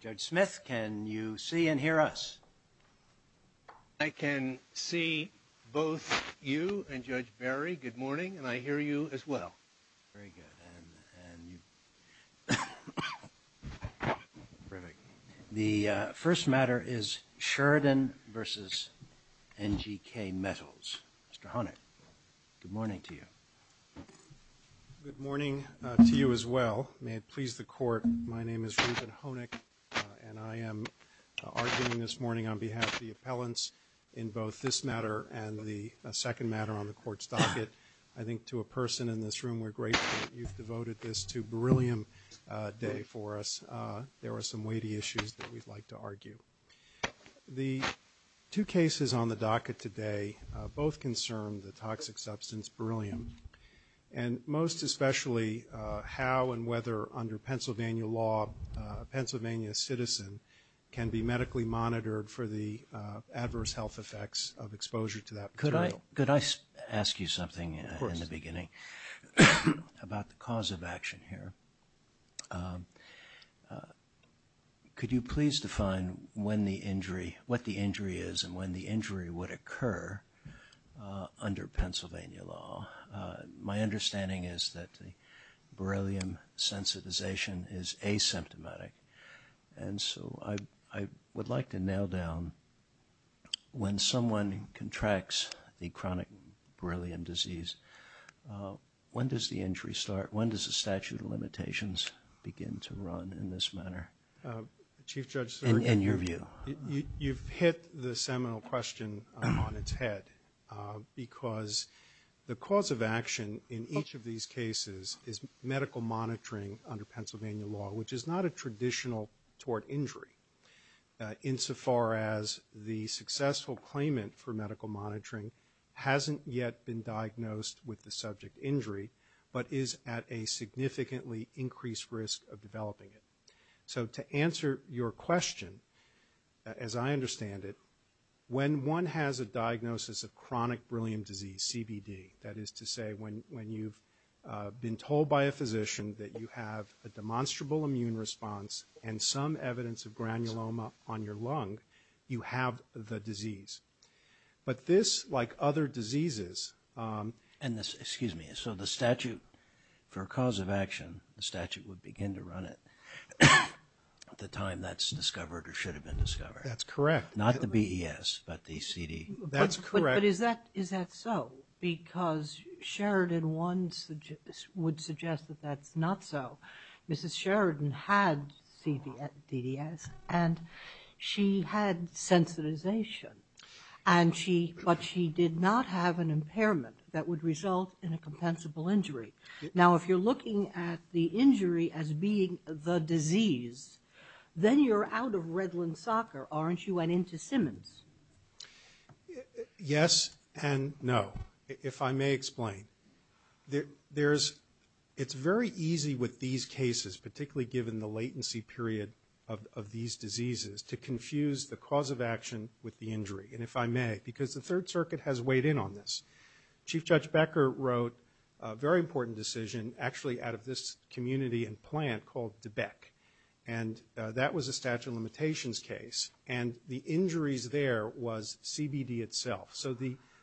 Judge Smith, can you see and hear us? I can see both you and Judge Barry. Good morning. And I hear you as well. Very good. The first matter is Sheridan v. NGKMetals. Mr. Honig, good morning to you. Good morning to you as well. May it please the Court, my name is Regent Honig and I am arguing this morning on behalf of the appellants in both this matter and the second matter on the Court's docket. I think to a person in this room we're grateful you've devoted this to a brilliant day for us. There are some weighty issues that we'd like to argue. The two cases on the docket today both concern the toxic substance beryllium and most especially how and whether under Pennsylvania law a Pennsylvania citizen can be medically monitored for the adverse health effects of exposure to that beryllium. Could I ask you something in the beginning about the cause of action here? Could you please define what the injury is and when the injury would occur under Pennsylvania law? My understanding is that the beryllium sensitization is asymptomatic and so I would like to nail down when someone contracts a chronic beryllium disease, when does the injury start? When does the statute of limitations begin to run in this manner in your view? You've hit the seminal question on its head because the cause of action in each of these cases is medical monitoring under Pennsylvania law which is not a traditional tort injury insofar as the successful claimant for medical monitoring hasn't yet been diagnosed with the subject injury but is at a significantly increased risk of developing it. So to answer your question, as I understand it, when one has a diagnosis of chronic beryllium disease, CBD, that is to say when you've been told by a physician that you have a demonstrable immune response and some evidence of granuloma on your lung, you have the disease. But this, like other diseases, excuse me, so the statute for cause of action, the statute would begin to run it at the time that's discovered or should have been discovered. That's correct. Not the BES but the CD. That's correct. But is that so? Because Sheridan 1 would suggest that that's not so. Mrs. Sheridan had CDS and she had sensitization but she did not have an impairment that would result in a compensable injury. Now if you're looking at the injury as being the disease, then you're out of Redland soccer, aren't you? And into Simmons. Yes and no. If I may explain. It's very easy with these cases, particularly given the latency period of these diseases, to confuse the cause of action with the injury. And if I may, because the Third Circuit has weighed in on this. Chief Judge Becker wrote a very important decision actually out of this community and plant called the BEC. And that was a statute of limitations case. And the injuries there was CBD itself. So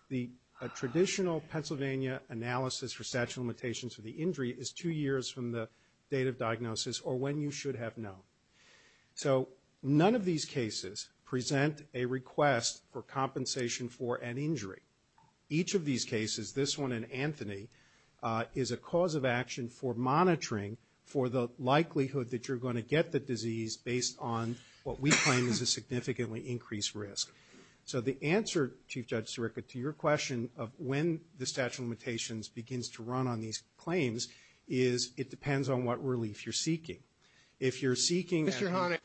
the traditional Pennsylvania analysis for statute of limitations for the two years from the date of diagnosis or when you should have known. So none of these cases present a request for compensation for an injury. Each of these cases, this one and Anthony, is a cause of action for monitoring for the likelihood that you're going to get the disease based on what we claim is a significantly increased risk. So the answer, Chief Judge is it depends on what relief you're seeking. If you're seeking... Mr. Honick.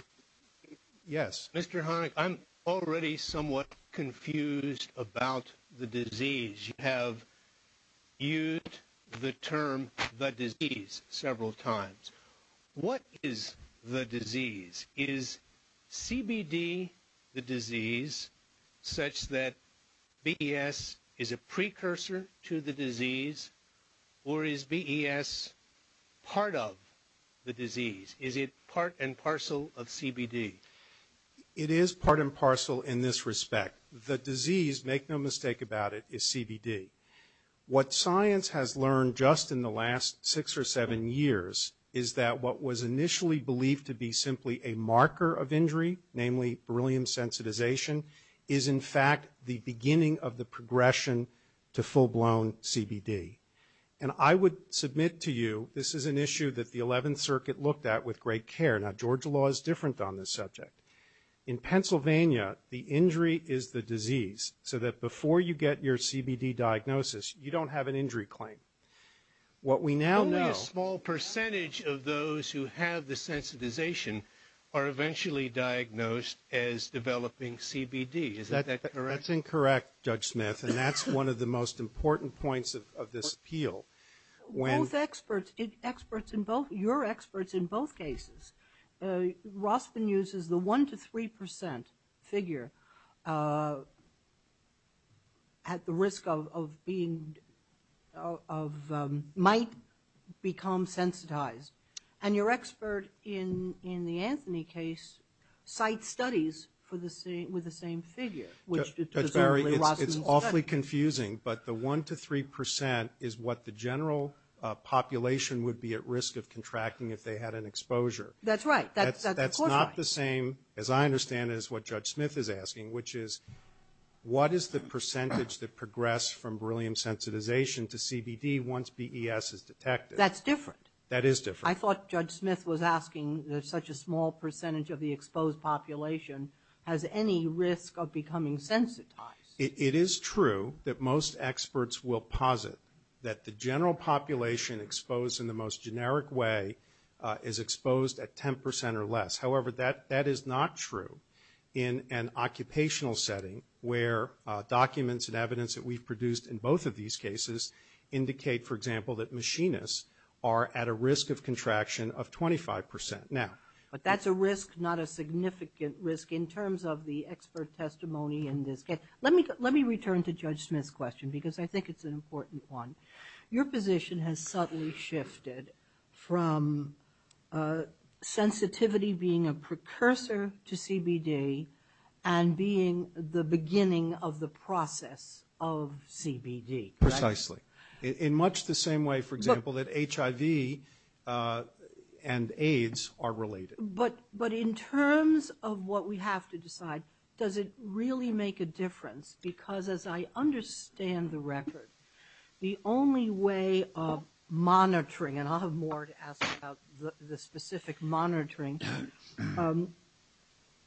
Yes. Mr. Honick, I'm already somewhat confused about the disease. You have used the term the disease several times. What is the disease? Is CBD the disease such that BES is a precursor to the disease? Or is BES part of the disease? Is it part and parcel of CBD? It is part and parcel in this respect. The disease, make no mistake about it, is CBD. What science has learned just in the last six or seven years is that what was initially believed to be simply a marker of injury, namely beryllium sensitization, is in fact the beginning of the progression to full-blown CBD. And I would submit to you this is an issue that the 11th Circuit looked at with great care. Now, Georgia law is different on this subject. In Pennsylvania, the injury is the disease, so that before you get your CBD diagnosis, you don't have an injury claim. What we now know... Only a small percentage of those who have the sensitization are eventually diagnosed as developing CBD. Is that correct? That's incorrect, Judge Smith. And that's one of the most important points of this appeal. When... Both experts, experts in both, you're experts in both cases. Rospin uses the 1% to 3% figure at the risk of being, of, might become sensitized. And your expert in the Anthony case cites studies for the same, with the same figure, which is certainly Rospin's study. That's very, it's awfully confusing, but the 1% to 3% is what the general population would be at risk of contracting if they had an exposure. That's right. That's not the same, as I understand it, as what Judge Smith is asking, which is, what is the percentage that progressed from beryllium sensitization to CBD once BES is detected? That's different. That is different. I thought Judge Smith was asking that such a small percentage of the exposed population has any risk of becoming sensitized. It is true that most experts will posit that the general population exposed in the most generic way is exposed at 10% or less. However, that is not true in an occupational setting where documents and evidence that we've produced in both of these cases indicate, for example, that machinists are at a risk of contraction of 25%. But that's a risk, not a significant risk in terms of the expert testimony in this case. Let me return to Judge Smith's question, because I think it's an important one. Your position has suddenly shifted from sensitivity being a precursor to CBD and being the beginning of the process of CBD. Precisely. In much the same way, for example, that HIV and AIDS are related. But in terms of what we have to decide, does it really make a difference? Because, as I understand the record, the only way of monitoring, and I'll have more to ask about the specific monitoring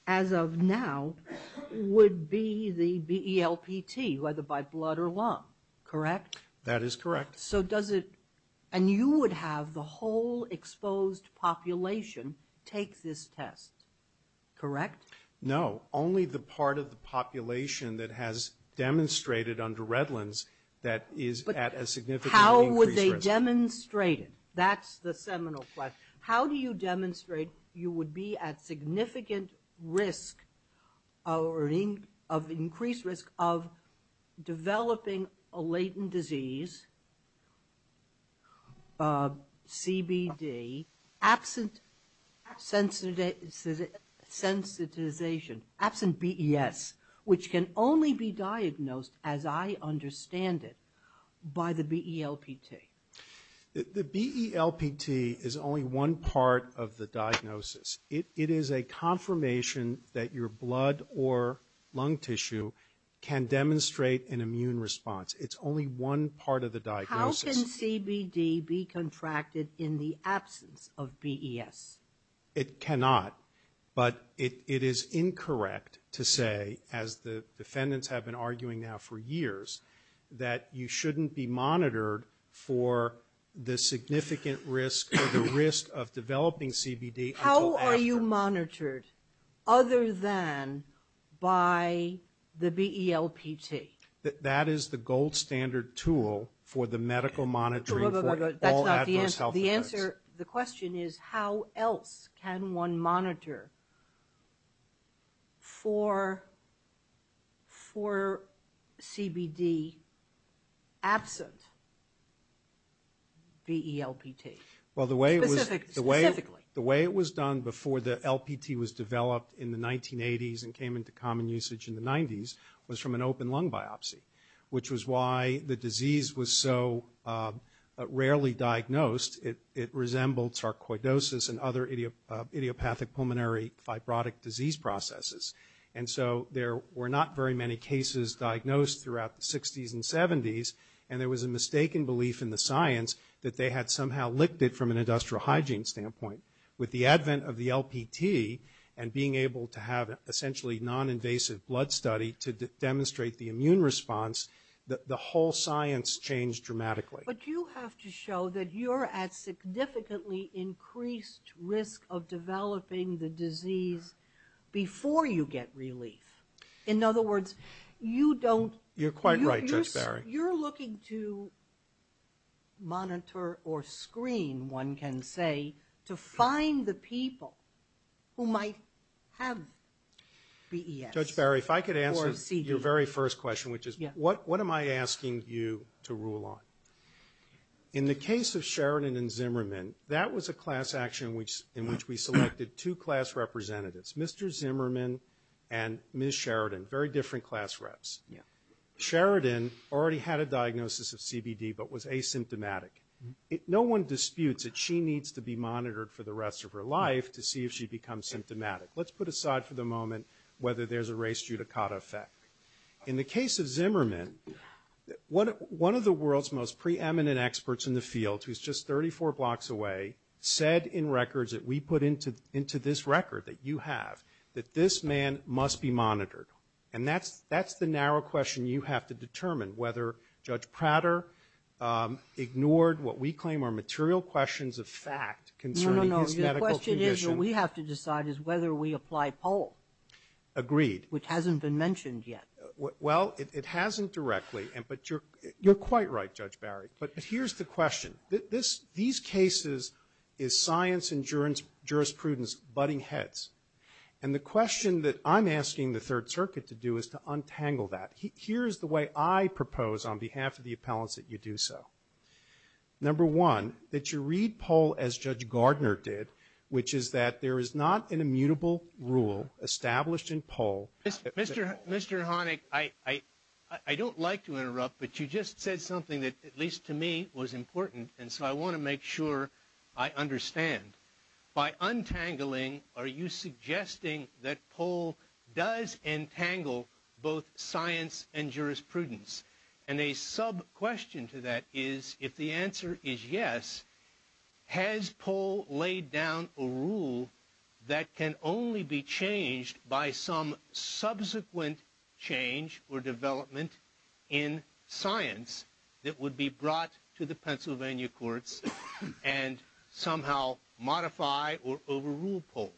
as of now, would be the ELPT, whether by blood or lung, correct? That is correct. So does it, and you would have the whole exposed population take this test, correct? No, only the part of the population that has demonstrated under Revlins that is at a significant increase. How would they demonstrate it? That's the seminal question. How do you demonstrate you would be at significant risk, or increased risk, of developing a latent disease, CBD, absent sensitization, absent BES, which can only be diagnosed, as I understand it, by the BELPT? The BELPT is only one part of the diagnosis. It is a confirmation that your blood or lung tissue can demonstrate an immune response. It's only one part of the diagnosis. How can CBD be contracted in the absence of BES? It cannot, but it is incorrect to say, as the defendants have been arguing now for years, that you shouldn't be monitored for the significant risk, or the risk of developing CBD. How are you monitored, other than by the BELPT? That is the gold standard tool for the medical monitoring for all adverse health effects. The answer, the question is, how else can one monitor for CBD absent BELPT? Well, the way it was done before the LPT was developed in the 1980s and came into common usage in the 90s was from an open lung biopsy, which was why the disease was so rarely diagnosed. It resembled sarcoidosis and other idiopathic pulmonary fibrotic disease processes. And so, there were not very many cases diagnosed throughout the 60s and 70s, and it was a mistaken belief in the science that they had somehow licked it from an industrial hygiene standpoint. With the advent of the LPT, and being able to have essentially non-invasive blood study to demonstrate the immune response, the whole science changed dramatically. But you have to show that you're at significantly increased risk of developing the disease before you get relief. In other words, you don't... You're quite right, Judge Barry. You're looking to monitor or screen, one can say, to find the people who might have CES. Judge Barry, if I could answer your very first question, which is, what am I asking you to In the case of Sheridan and Zimmerman, that was a class action in which we selected two class representatives, Mr. Zimmerman and Ms. Sheridan, very different class reps. Sheridan already had a diagnosis of CBD, but was asymptomatic. No one disputes that she needs to be monitored for the rest of her life to see if she becomes symptomatic. Let's put aside for the moment whether there's a race eudicata effect. In the case of Zimmerman, one of the world's most preeminent experts in the field, who's just 34 blocks away, said in records that we put into this record that you have, that this man must be monitored. And that's the narrow question you have to determine, whether Judge Prater ignored what we claim are material questions of fact concerning his medical condition. No, no, no. The question is, what we have to decide is whether we apply a poll. Agreed. Which hasn't been mentioned yet. Well, it hasn't directly, but you're quite right, Judge Barry. But here's the question. These cases is science and jurisprudence butting heads. And the question that I'm asking the Third Circuit to do is to untangle that. Here's the way I propose on behalf of the appellants that you do so. Number one, that you read poll as Judge Gardner did, which is that there is not an immutable rule established in poll. Mr. Honick, I don't like to interrupt, but you just said something that, at least to me, was important. And so I want to make sure I understand. By untangling, are you suggesting that poll does entangle both science and jurisprudence? And a sub-question to that is, if the answer is yes, has poll laid down a rule that can only be changed by some subsequent change or development in science that would be brought to the Pennsylvania courts and somehow modify or overrule poll?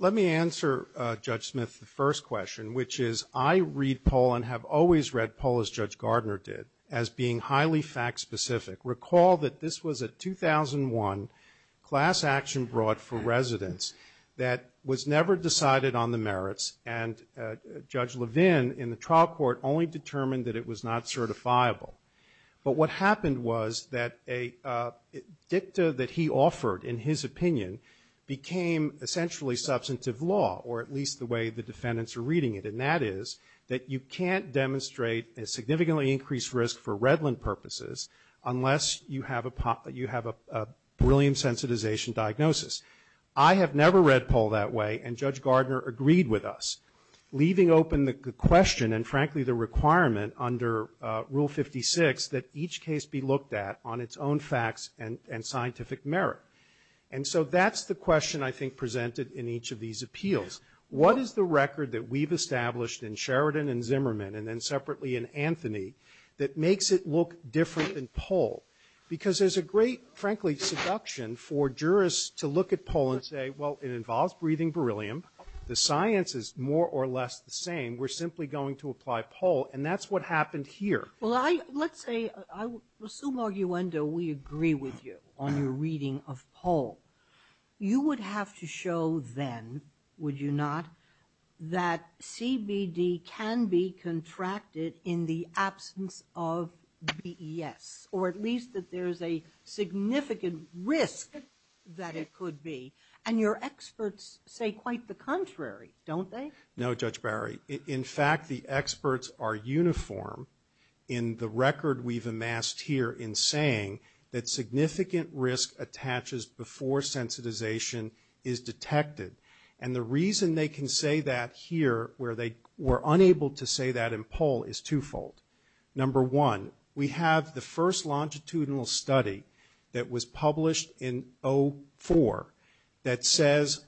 Let me answer, Judge Smith, the first question, which is I read poll and have always read poll as Judge Gardner did as being highly fact-specific. Recall that this was a 2001 class action brought for residents that was never decided on the merits and Judge Levin in the trial court only determined that it was not certifiable. But what happened was that a dicta that he offered, in his opinion, became essentially substantive law, or at least the way the defendants are reading it, and that is that you can't demonstrate a significantly increased risk for Redland purposes unless you have a brilliant sensitization diagnosis. I have never read poll that way, and Judge Gardner agreed with us, leaving open the question and frankly the requirement under Rule 56 that each case be looked at on its own facts and scientific merit. And so that's the question I think presented in each of these appeals. What is the record that we've established in Sheridan and Zimmerman and then separately in Anthony that makes it look different than poll? Because there's a great, frankly, seduction for jurists to look at poll and say, well, it involves breathing beryllium. The science is more or less the same. We're simply going to apply poll, and that's what happened here. Well, let's say, I assume, Arguendo, we agree with you on your reading of poll. You would have to show then, would you not, that CBD can be contracted in the absence of BES, or at least that there's a significant risk that it could be. And your experts say quite the contrary, don't they? No, Judge Barry. In fact, the experts are uniform in the record we've amassed here in saying that significant risk attaches before sensitization is detected. And the reason they can say that here where they were unable to say that in poll is twofold. Number one, we have the first longitudinal study that was published in 04 that says,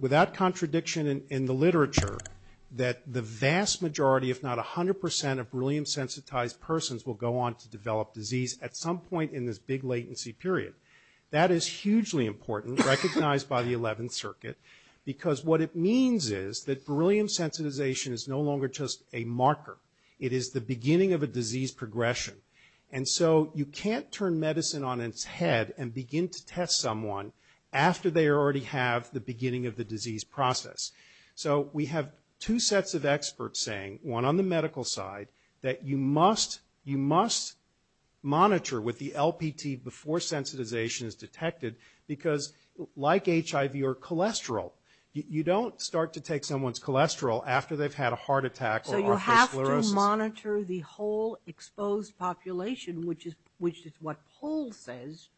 without contradiction in the literature, that the vast majority, if not 100 percent, of beryllium-sensitized persons will go on to develop disease at some point in this big latency period. That is hugely important, recognized by the 11th Circuit, because what it means is that beryllium sensitization is no longer just a marker. It is the beginning of a disease progression. And so you can't turn medicine on its head and begin to test someone after they already have the beginning of the disease process. So we have two sets of experts saying, one on the medical side, that you must monitor with the LPT before sensitization is detected, because like HIV or cholesterol, you don't start to take someone's cholesterol after they've had a heart attack or osteoporosis. So you have to monitor the whole exposed population, which is what poll says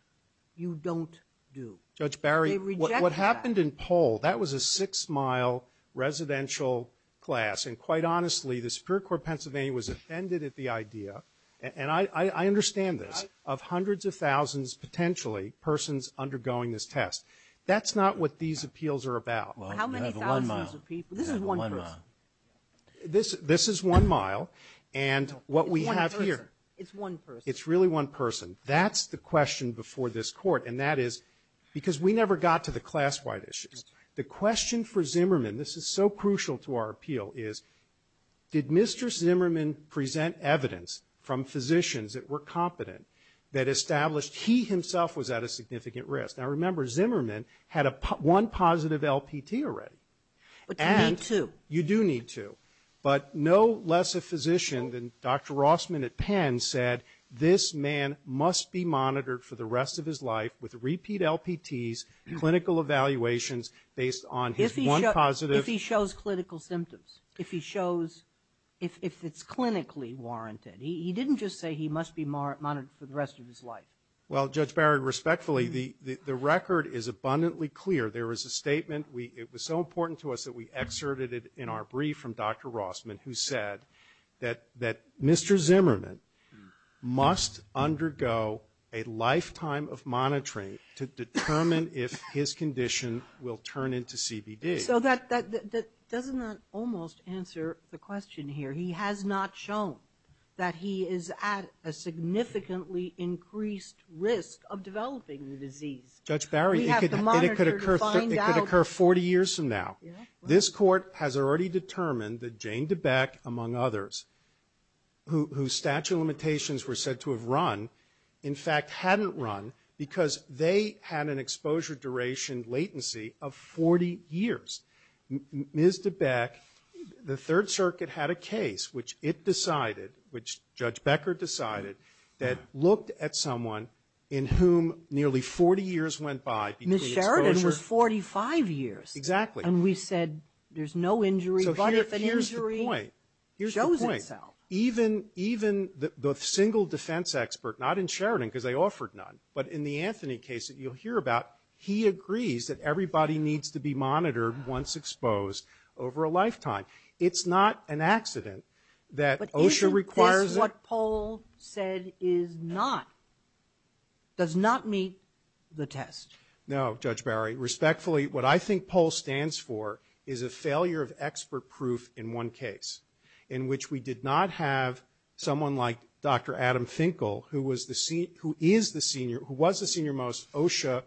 you don't do. Judge Barry, what happened in poll, that was a six-mile residential class. And quite honestly, the Superior Court of Pennsylvania was offended at the idea, and I understand this, of hundreds of thousands, potentially, persons undergoing this test. That's not what these appeals are about. How many thousands of people? This is one person. This is one mile. And what we have here. It's one person. It's really one person. That's the question before this court. And that is, because we never got to the class-wide issues. The question for Zimmerman, this is so crucial to our appeal, is did Mr. Zimmerman present evidence from physicians that were competent that established he himself was at a significant risk? Now remember, Zimmerman had one positive LPT already. And you do need two. But no less a physician than Dr. Rossman at Penn said, this man must be monitored for the rest of his life with repeat LPTs, clinical evaluations based on his one positive. If he shows clinical symptoms. If he shows, if it's clinically warranted. He didn't just say he must be monitored for the rest of his life. Well, Judge Barrett, respectfully, the record is abundantly clear. There is a statement. It was so important to us that we excerpted it in our brief from Dr. Rossman, who said that Mr. Zimmerman must undergo a lifetime of monitoring to determine if his condition will turn into CBD. So that doesn't almost answer the question here. He has not shown that he is at a significantly increased risk of developing the disease. Judge Barrett, it could occur 40 years from now. This court has already determined that Jane DeBeck, among others, whose statute of limitations were said to have run, in fact hadn't run because they had an exposure duration latency of 40 years. Ms. DeBeck, the Third Circuit had a case, which it decided, which Judge Becker decided, that looked at someone in whom nearly 40 years went by. Ms. Sheridan was 45 years. Exactly. And we said there's no injury, but if an injury shows itself. Here's the point. Even the single defense expert, not in Sheridan, because they offered none, but in the Anthony case that you'll hear about, he agrees that everybody needs to be monitored once exposed over a lifetime. It's not an accident that OSHA requires. What Paul said is not, does not meet the test. No, Judge Barrett. Respectfully, what I think Paul stands for is a failure of expert proof in one case, in which we did not have someone like Dr. Adam Finkel, who was the senior most OSHA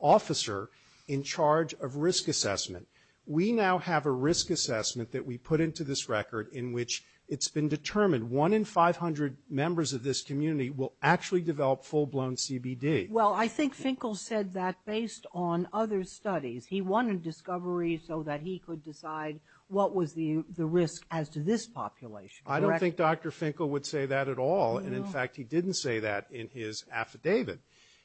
officer in charge of risk assessment. We now have a risk assessment that we put into this record in which it's been determined one in 500 members of this community will actually develop full-blown CBD. Well, I think Finkel said that based on other studies. He wanted discovery so that he could decide what was the risk as to this population. I don't think Dr. Finkel would say that at all. And, in fact, he didn't say that in his affidavit.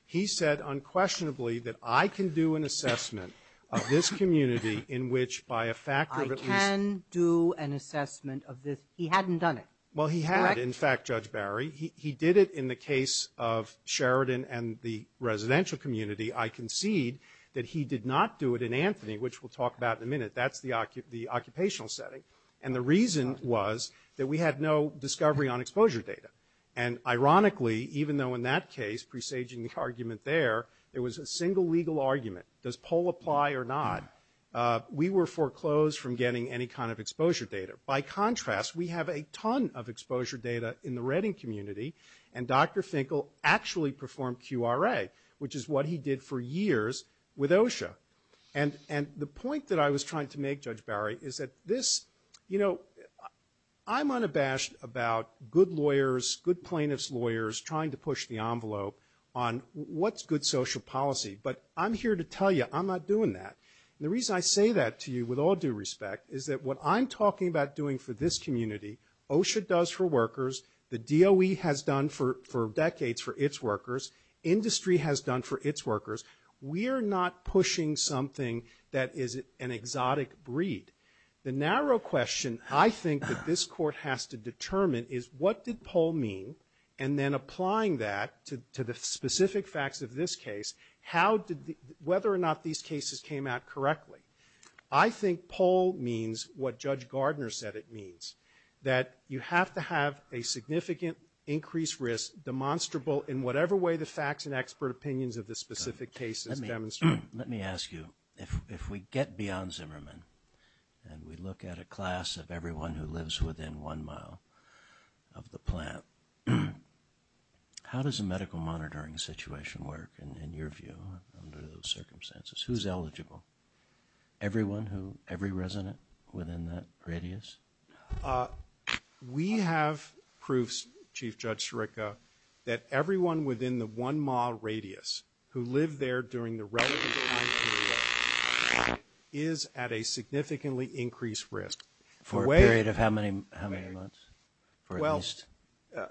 He said unquestionably that I can do an assessment of this community in which by a factor of at least I can do an assessment of this. He hadn't done it. Well, he had, in fact, Judge Barry. He did it in the case of Sheridan and the residential community. I concede that he did not do it in Anthony, which we'll talk about in a minute. That's the occupational setting. And the reason was that we had no discovery on exposure data. And, ironically, even though in that case, presaging the argument there, it was a single legal argument. Does Paul apply or not? We were foreclosed from getting any kind of exposure data. By contrast, we have a ton of exposure data in the Redding community. And Dr. Finkel actually performed QRA, which is what he did for years with OSHA. And the point that I was trying to make, Judge Barry, is that this, you know, I'm unabashed about good lawyers, good plaintiff's lawyers trying to push the envelope on what's good social policy. But I'm here to tell you I'm not doing that. The reason I say that to you with all due respect is that what I'm talking about doing for this community, OSHA does for workers. The DOE has done for decades for its workers. Industry has done for its workers. We are not pushing something that is an exotic breed. The narrow question, I think, that this court has to determine is what did Paul mean? And then applying that to the specific facts of this case, how did the, whether or not these cases came out correctly. I think Paul means what Judge Gardner said it means, that you have to have a significant increased risk demonstrable in whatever way the facts and expert opinions of the specific case is demonstrated. Let me ask you, if we get beyond Zimmerman and we look at a class of everyone who lives within one mile of the plant, how does a medical monitoring situation work in your view under those circumstances? Who's eligible? Everyone who, every resident within that radius? We have proofs, Chief Judge Shurica, that everyone within the one mile radius who lived there during the resident time period is at a significantly increased risk. For a period of how many months? Well,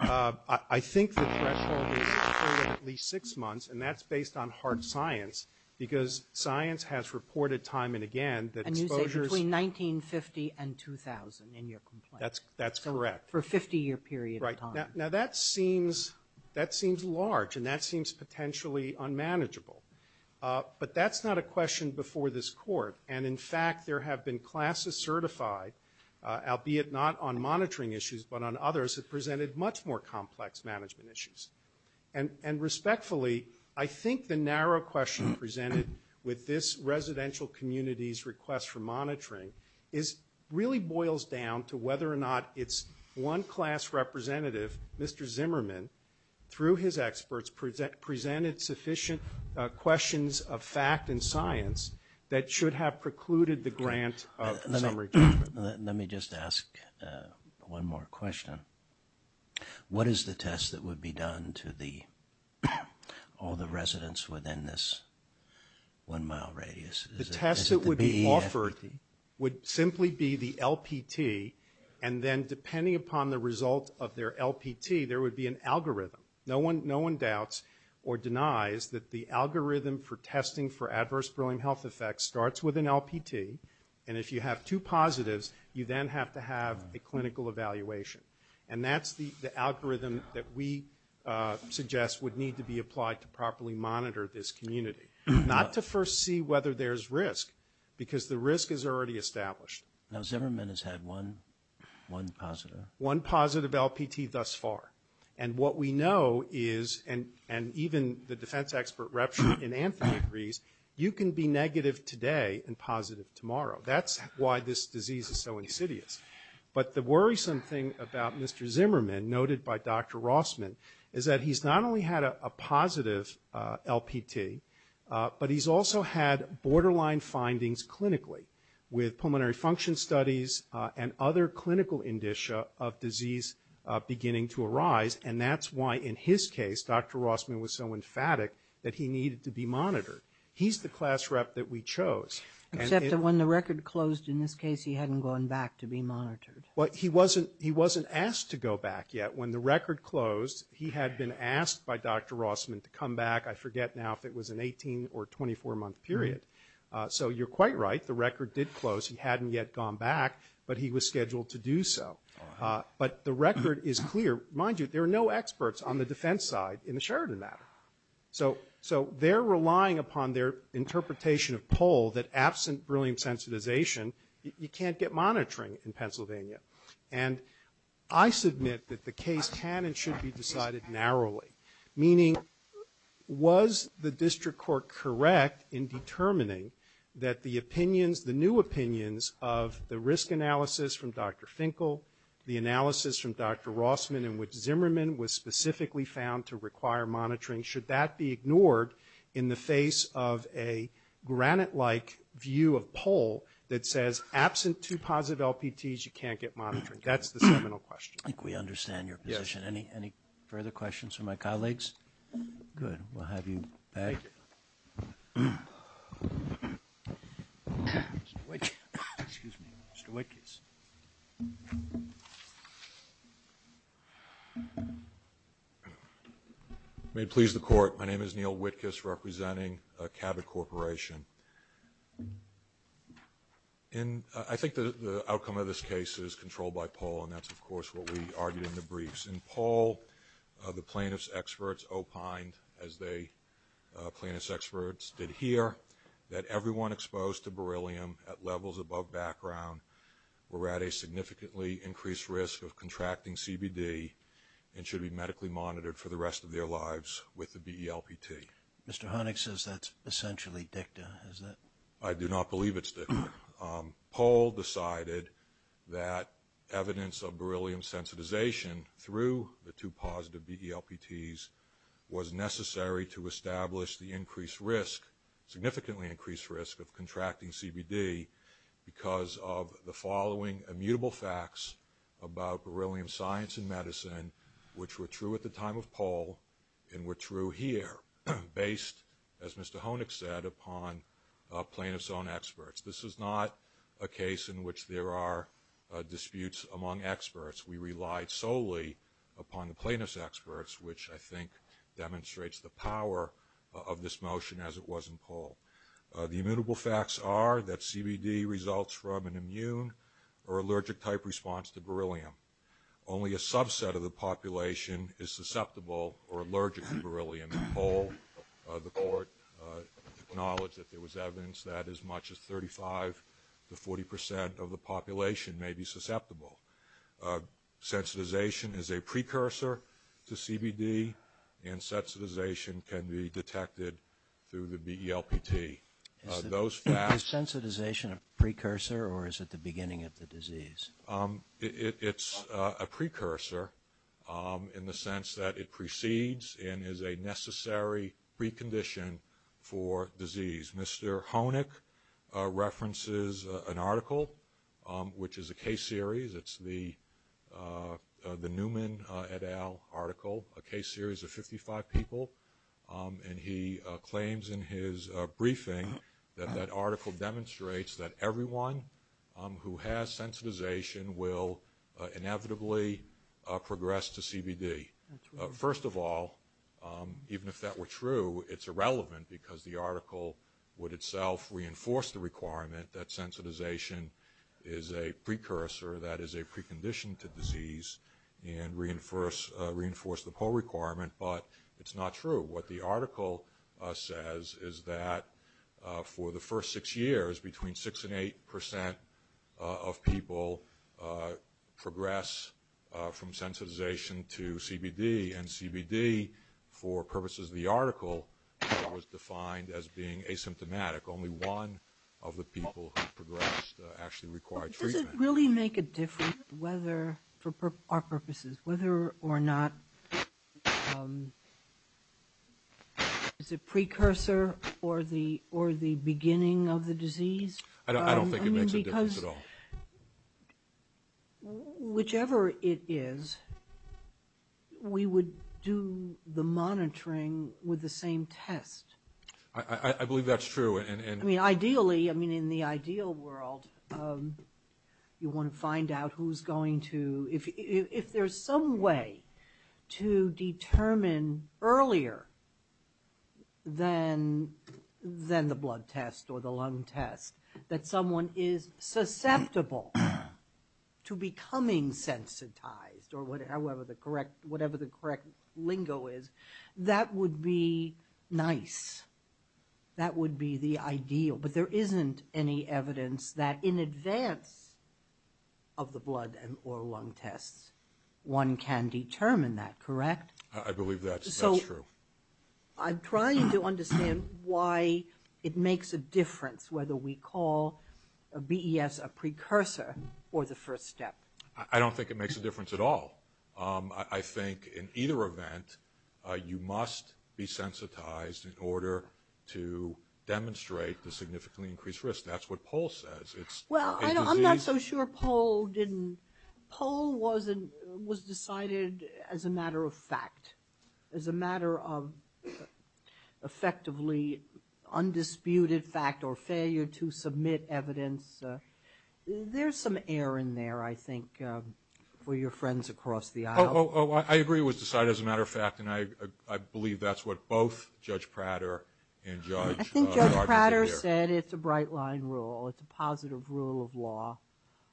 I think the test for at least six months, and that's based on hard science, because science has reported time and again that exposures. Between 1950 and 2000 in your complaint. That's correct. For a 50 year period of time. Now that seems large, and that seems potentially unmanageable. But that's not a question before this court. And in fact, there have been classes certified, albeit not on monitoring issues, but on others that presented much more complex management issues. And respectfully, I think the narrow question presented with this residential community's request for monitoring really boils down to whether or not it's one class representative, Mr. Zimmerman, through his experts presented sufficient questions of fact and science that should have precluded the grant of Zimmerman. Let me just ask one more question. What is the test that would be done to all the residents within this one mile radius? The test that would be offered would simply be the LPT, and then depending upon the result of their LPT, there would be an algorithm. No one doubts or denies that the algorithm for testing for adverse brewing health effects starts with an LPT, and if you have two positives, you then have to have a clinical evaluation. And that's the algorithm that we suggest would need to be applied to properly monitor this community. Not to first see whether there's risk, because the risk is already established. Now Zimmerman has had one positive. One positive LPT thus far. And what we know is, and even the defense expert in Anthony agrees, you can be negative today and positive tomorrow. That's why this disease is so insidious. But the worrisome thing about Mr. Zimmerman, noted by Dr. Rossman, is that he's not only had a positive LPT, but he's also had borderline findings clinically with pulmonary function studies and other clinical indicia of disease beginning to arise. And that's why, in his case, Dr. Rossman was so emphatic that he needed to be monitored. He's the class rep that we chose. Except that when the record closed, in this case, he hadn't gone back to be monitored. But he wasn't asked to go back yet. When the record closed, he had been asked by Dr. Rossman to come back, I forget now if it was an 18 or 24-month period. So you're quite right. The record did close. He hadn't yet gone back, but he was scheduled to do so. But the record is clear. Mind you, there are no experts on the defense side in the Sheridan matter. So they're relying upon their interpretation of poll that absent brilliant sensitization, you can't get monitoring in Pennsylvania. And I submit that the case can and should be decided narrowly. Meaning, was the district court correct in determining that the opinions, the new opinions of the risk analysis from Dr. Finkel, the analysis from Dr. Rossman in which Zimmerman was specifically found to require monitoring, should that be ignored in the face of a granite-like view of poll that says absent two positive LPTs, you can't get monitoring? That's the seminal question. I think we understand your position. And any further questions from my colleagues? Good. We'll have you back. May it please the court, my name is Neil Wittges representing Cabot Corporation. And I think the outcome of this case is controlled by poll, and that's, of course, what we argued in the briefs. In poll, the plaintiff's experts opined, as the plaintiff's experts did here, that everyone exposed to beryllium at levels above background were at a significantly increased risk of contracting CBD and should be medically monitored for the rest of their lives with the DELPT. Mr. Honig says that's essentially dicta, isn't it? I do not believe it's dicta. Poll decided that evidence of beryllium sensitization through the two positive DELPTs was necessary to establish the increased risk, significantly increased risk of contracting CBD because of the following immutable facts about beryllium science and medicine, which were true at the time of poll and were true here, based, as Mr. Honig said, upon plaintiff's own experts. This is not a case in which there are disputes among experts. We relied solely upon the plaintiff's experts, which I think demonstrates the power of this motion as it was in poll. The immutable facts are that CBD results from an immune or allergic-type response to beryllium. Only a subset of the population is susceptible or allergic to beryllium. In poll, the court acknowledged that there was evidence that as much as 35 to 40 percent of the population may be susceptible. Sensitization is a precursor to CBD, and sensitization can be detected through the DELPT. Is sensitization a precursor or is it the beginning of the disease? It's a precursor in the sense that it precedes and is a necessary precondition for disease. Mr. Honig references an article, which is a case series. It's the Newman et al. article, a case series of 55 people, and he claims in his briefing that that article demonstrates that everyone who has sensitization will inevitably progress to CBD. First of all, even if that were true, it's irrelevant because the article would itself reinforce the requirement that sensitization is a precursor, that is, a precondition to disease, and reinforce the poll requirement, but it's not true. What the article says is that for the first six years, between 6 and 8 percent of people progress from sensitization to CBD, and CBD, for purposes of the article, was defined as being asymptomatic. Only one of the people who progressed actually required treatment. Does it really make a difference whether, for our purposes, whether or not it's a precursor or the beginning of the disease? I don't think it makes a difference at all. Whichever it is, we would do the monitoring with the same test. I believe that's true. Ideally, in the ideal world, you want to find out who's going to... If there's some way to determine earlier than the blood test or the lung test that someone is susceptible to becoming sensitized, or whatever the correct lingo is, that would be nice. That would be the ideal, but there isn't any evidence that, in advance of the blood or lung tests, one can determine that, correct? I believe that's true. I'm trying to understand why it makes a difference whether we call BES a precursor or the first step. I don't think it makes a difference at all. I think, in either event, you must be sensitized in order to demonstrate the significantly increased risk. That's what Paul says. I'm not so sure Paul didn't... Paul was decided as a matter of fact, as a matter of effectively undisputed fact or failure to submit evidence. There's some air in there, I think, for your friends across the aisle. Oh, I agree with decided as a matter of fact, and I believe that's what both Judge Prater and Judge... I think Judge Prater said it's a bright line rule. It's a positive rule of law.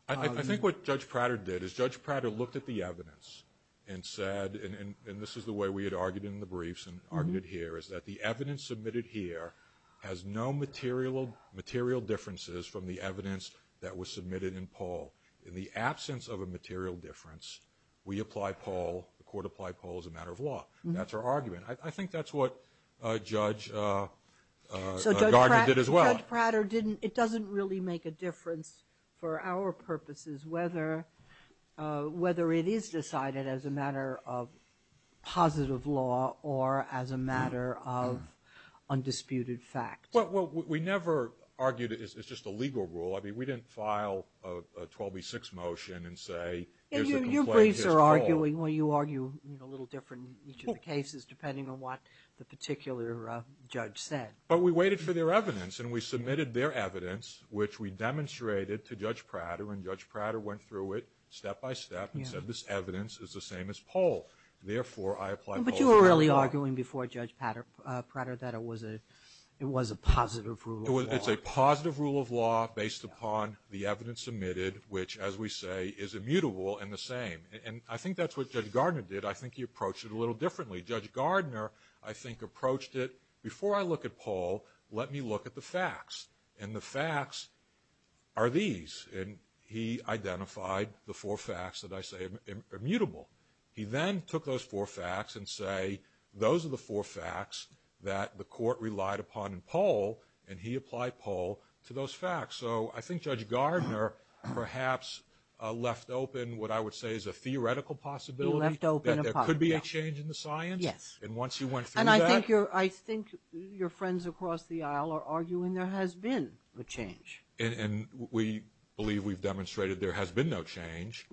I think what Judge Prater did is Judge Prater looked at the evidence and said, and this is the way we had argued in the briefs and argued here, is that the evidence submitted here has no material differences from the evidence that was submitted in Paul. In the absence of a material difference, we apply Paul, the court applied Paul as a matter of law. That's our argument. I think that's what Judge Gardner did as well. So Judge Prater didn't... It doesn't really make a difference for our purposes whether it is decided as a matter of positive law or as a matter of undisputed fact. Well, we never argued it's just a legal rule. I mean, we didn't file a 12B6 motion and say... And your briefs are arguing, well, you argue a little different in each of the cases depending on what the particular judge said. But we waited for their evidence and we submitted their evidence, which we demonstrated to Judge Prater, and Judge Prater went through it step by step and said this evidence is the same as Paul. Therefore, I apply Paul... But you were really arguing before Judge Prater that it was a positive rule of law. It's a positive rule of law based upon the evidence submitted, which, as we say, is immutable and the same. And I think that's what Judge Gardner did. I think he approached it a little differently. Judge Gardner, I think, approached it, before I look at Paul, let me look at the facts. And the facts are these. And he identified the four facts that I say are immutable. He then took those four facts and say, those are the four facts that the court relied upon in Paul, and he applied Paul to those facts. So I think Judge Gardner perhaps left open what I would say is a theoretical possibility that there could be a change in the science. Yes. And once he went through that... And I think your friends across the aisle are arguing there has been a change. And we believe we've demonstrated there has been no change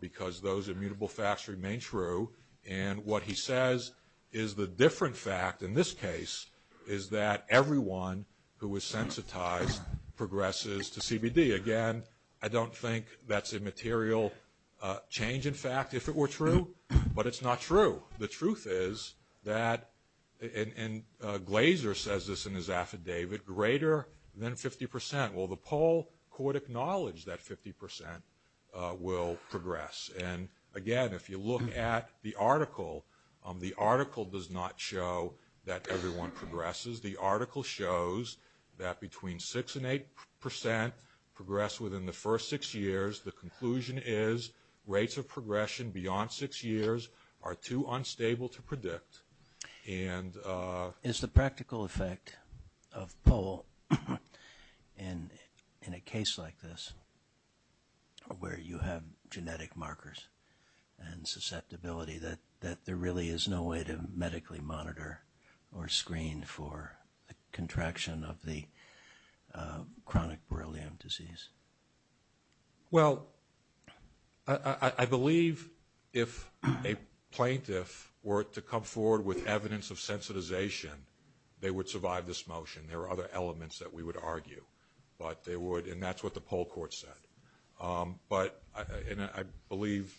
because those immutable facts remain true. And what he says is the different fact in this case is that everyone who was sensitized progresses to CBD. Again, I don't think that's a material change, in fact, if it were true, but it's not true. The truth is that, and Glazer says this in his affidavit, greater than 50%. Well, the Paul court acknowledged that 50% will progress. And again, if you look at the article, the article does not show that everyone progresses. The article shows that between 6% and 8% progress within the first six years. The conclusion is rates of progression beyond six years are too unstable to predict. And... Is the practical effect of Paul in a case like this where you have genetic markers and susceptibility that there really is no way to medically monitor or screen for the contraction of the chronic Borrelian disease? Well, I believe if a plaintiff were to come forward with evidence of sensitization, they would survive this motion. There are other elements that we would argue, but they would, and that's what the Paul court said. But, and I believe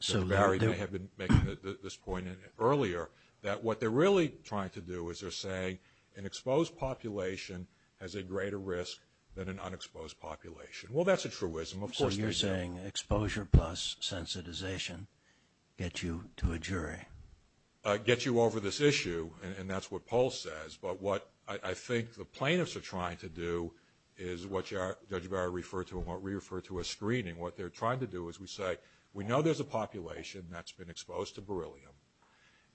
Judge Barry had been making this point earlier, that what they're really trying to do is they're saying an exposed population has a greater risk than an unexposed population. Well, that's a truism. So you're saying exposure plus sensitization get you to a jury? Get you over this issue, and that's what Paul says. But what I think the plaintiffs are trying to do is what Judge Barry referred to, and what we refer to as screening. What they're trying to do is we say, we know there's a population that's been exposed to Borrelian.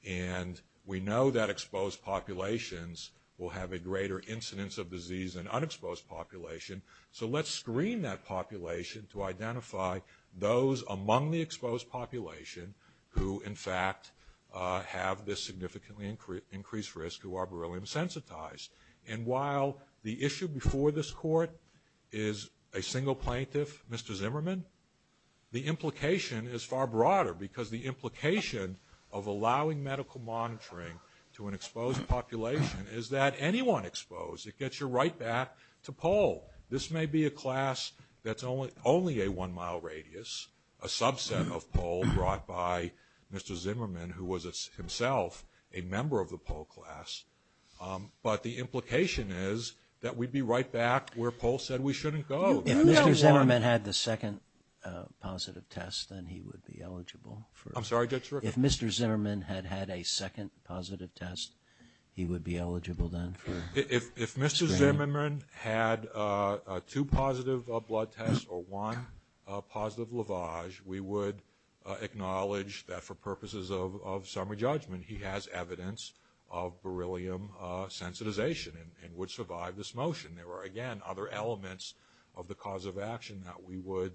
And we know that exposed populations will have a greater incidence of disease than unexposed population. So let's screen that population to identify those among the exposed population who in fact have this significantly increased risk who are Borrelian sensitized. And while the issue before this court is a single plaintiff, Mr. Zimmerman, the implication is far broader because the implication of allowing medical monitoring to an exposed population is that anyone exposed, it gets you right back to Paul. This may be a class that's only a one mile radius, a subset of Paul brought by Mr. Zimmerman, who was himself a member of the Paul class. But the implication is that we'd be right back where Paul said we shouldn't go. If Mr. Zimmerman had the second positive test, then he would be eligible. I'm sorry, Judge. If Mr. Zimmerman had had a second positive test, he would be eligible then. If Mr. Zimmerman had two positive blood tests or one positive lavage, we would acknowledge that for purposes of summary judgment, he has evidence of Borrelian sensitization and would survive this motion. There were again, other elements of the cause of action that we would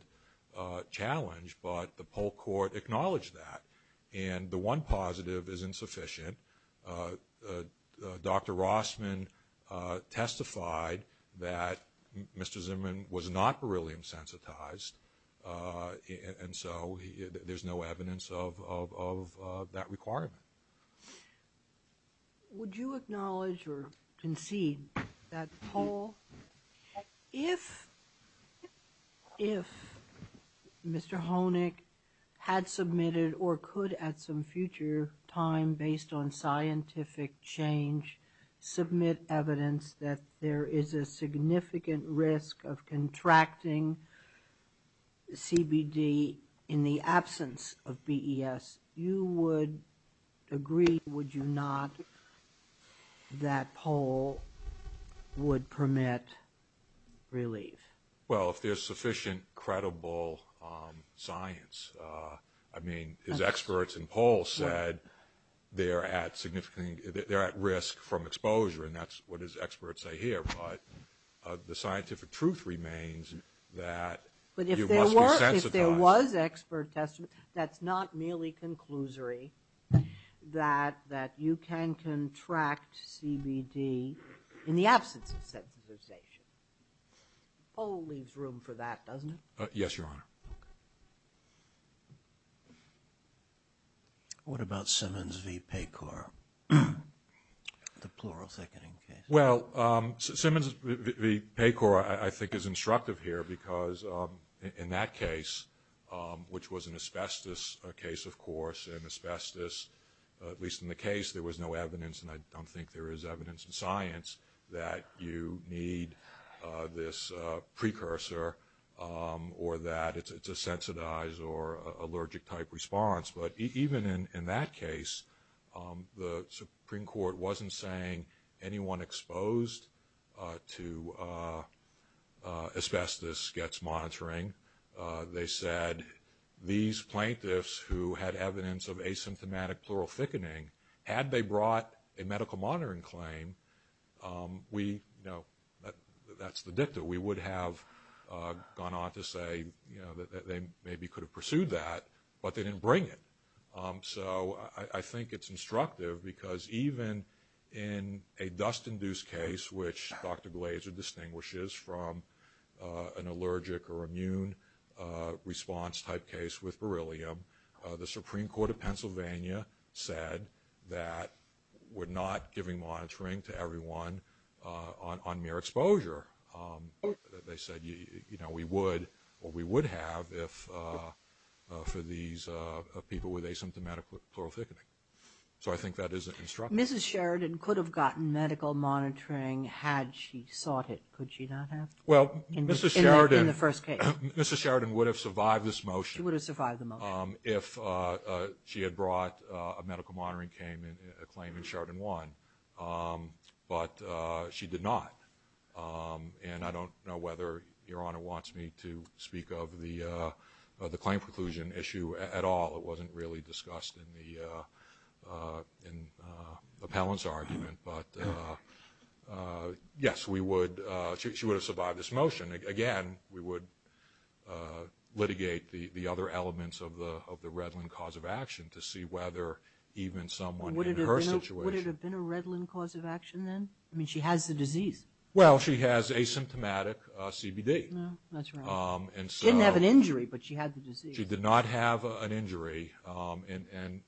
challenge, but the Paul court acknowledged that. And the one positive is insufficient. Dr. Rossman testified that Mr. Zimmerman was not Borrelian sensitized. And so there's no evidence of that requirement. So would you acknowledge or concede that Paul, if Mr. Honig had submitted or could at some future time, based on scientific change, submit evidence that there is a significant risk of contracting CBD in the absence of BES, you would agree, would you not, that Paul would permit relief? Well, if there's sufficient credible science, I mean, his experts in Paul said, they're at significant, they're at risk from exposure. And that's what his experts say here. But the scientific truth remains that- But if there was expert test, that's not merely conclusory, that you can contract CBD in the absence of sensitization. Always room for that, doesn't it? Yes, Your Honor. What about Simmons v. Paycor? Well, Simmons v. Paycor I think is instructive here because in that case, which was an asbestos case, of course, and asbestos, at least in the case, there was no evidence, and I don't think there is evidence in science that you need this precursor or that it's a sensitized or allergic-type response. But even in that case, the Supreme Court wasn't saying anyone exposed to asbestos gets monitoring. They said these plaintiffs who had evidence of asymptomatic pleural thickening, had they brought a medical monitoring claim, that's the dictum. We would have gone on to say that they maybe could have pursued that, but they didn't bring it. So I think it's instructive because even in a dust-induced case, which Dr. Glazer distinguishes from an allergic or immune response-type case with beryllium, the Supreme Court of Pennsylvania said that we're not giving monitoring to everyone on mere exposure. They said we would have for these people with asymptomatic pleural thickening. So I think that is instructive. Mrs. Sheridan could have gotten medical monitoring had she sought it. Could she not have? Well, Mrs. Sheridan would have survived this motion if she had brought a medical monitoring claim and Sheridan won. But she did not. And I don't know whether Your Honor wants me to speak of the claim preclusion issue at all. It wasn't really discussed in the appellant's argument. But yes, she would have survived this motion. Again, we would litigate the other elements of the Redlin cause of action to see whether even someone in her situation- Would it have been a Redlin cause of action then? I mean, she had the disease. Well, she has asymptomatic CBD. No, that's right. She didn't have an injury, but she had the disease. She did not have an injury. And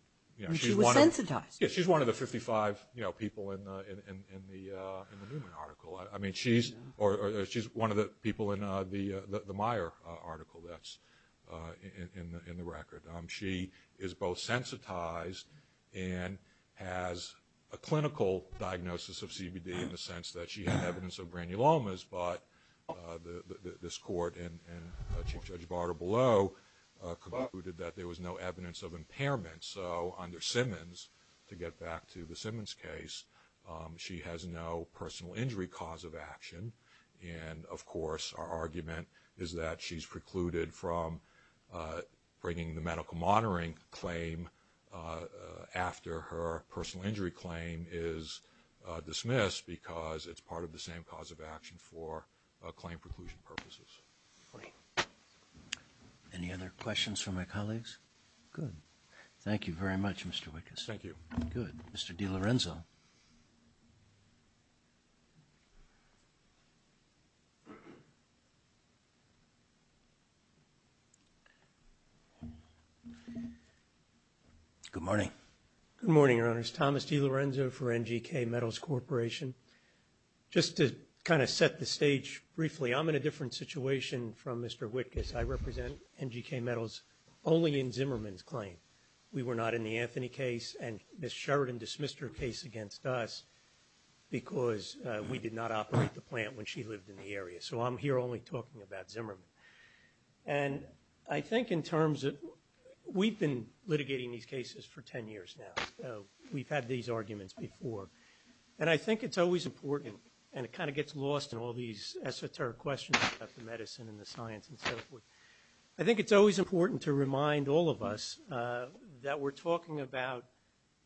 she was sensitized. She's one of the 55 people in the Newman article. I mean, she's one of the people in the Meyer article that's in the record. She is both sensitized and has a clinical diagnosis of CBD in the sense that she had evidence of granulomas, but this court and Chief Judge Barter below concluded that there was no evidence of impairment. So under Simmons, to get back to the Simmons case, she has no personal injury cause of action. And of course, our argument is that she's precluded from bringing the medical monitoring claim after her personal injury claim is dismissed because it's part of the same cause of action for claim preclusion purposes. Great. Any other questions from my colleagues? Good. Thank you very much, Mr. Wittges. Thank you. Good. Mr. DiLorenzo. Good morning. Good morning, Your Honors. Thomas DiLorenzo for NGK Metals Corporation. Just to kind of set the stage briefly, I'm in a different situation from Mr. Wittges. I represent NGK Metals only in Zimmerman's claim. We were not in the Anthony case, and Ms. Sheridan dismissed her case against us because we did not operate the plant when she lived in the area. So I'm here only talking about Zimmerman. And I think in terms of – we've been litigating these cases for 10 years now, so we've had these arguments before. And I think it's always important – and it kind of gets lost in all these esoteric questions about the medicine and the science and so forth – I think it's always important to remind all of us that we're talking about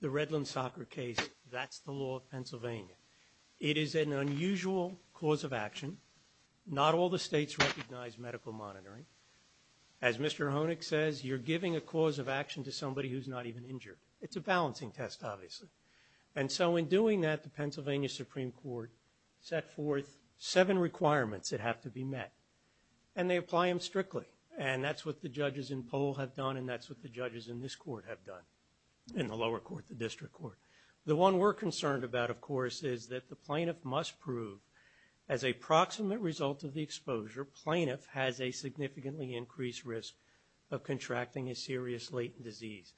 the Redland soccer case. That's the law of Pennsylvania. It is an unusual cause of action. Not all the states recognize medical monitoring. As Mr. Honig says, you're giving a cause of action to somebody who's not even injured. It's a balancing test, obviously. And so in doing that, the Pennsylvania Supreme Court set forth seven requirements that have to be met, and they apply them strictly. And that's what the judges in Pohl have done, and that's what the judges in this court have done, in the lower court, the district court. The one we're concerned about, of course, is that the plaintiff must prove, as a proximate result of the exposure, plaintiff has a significantly increased risk of contracting a serious latent disease.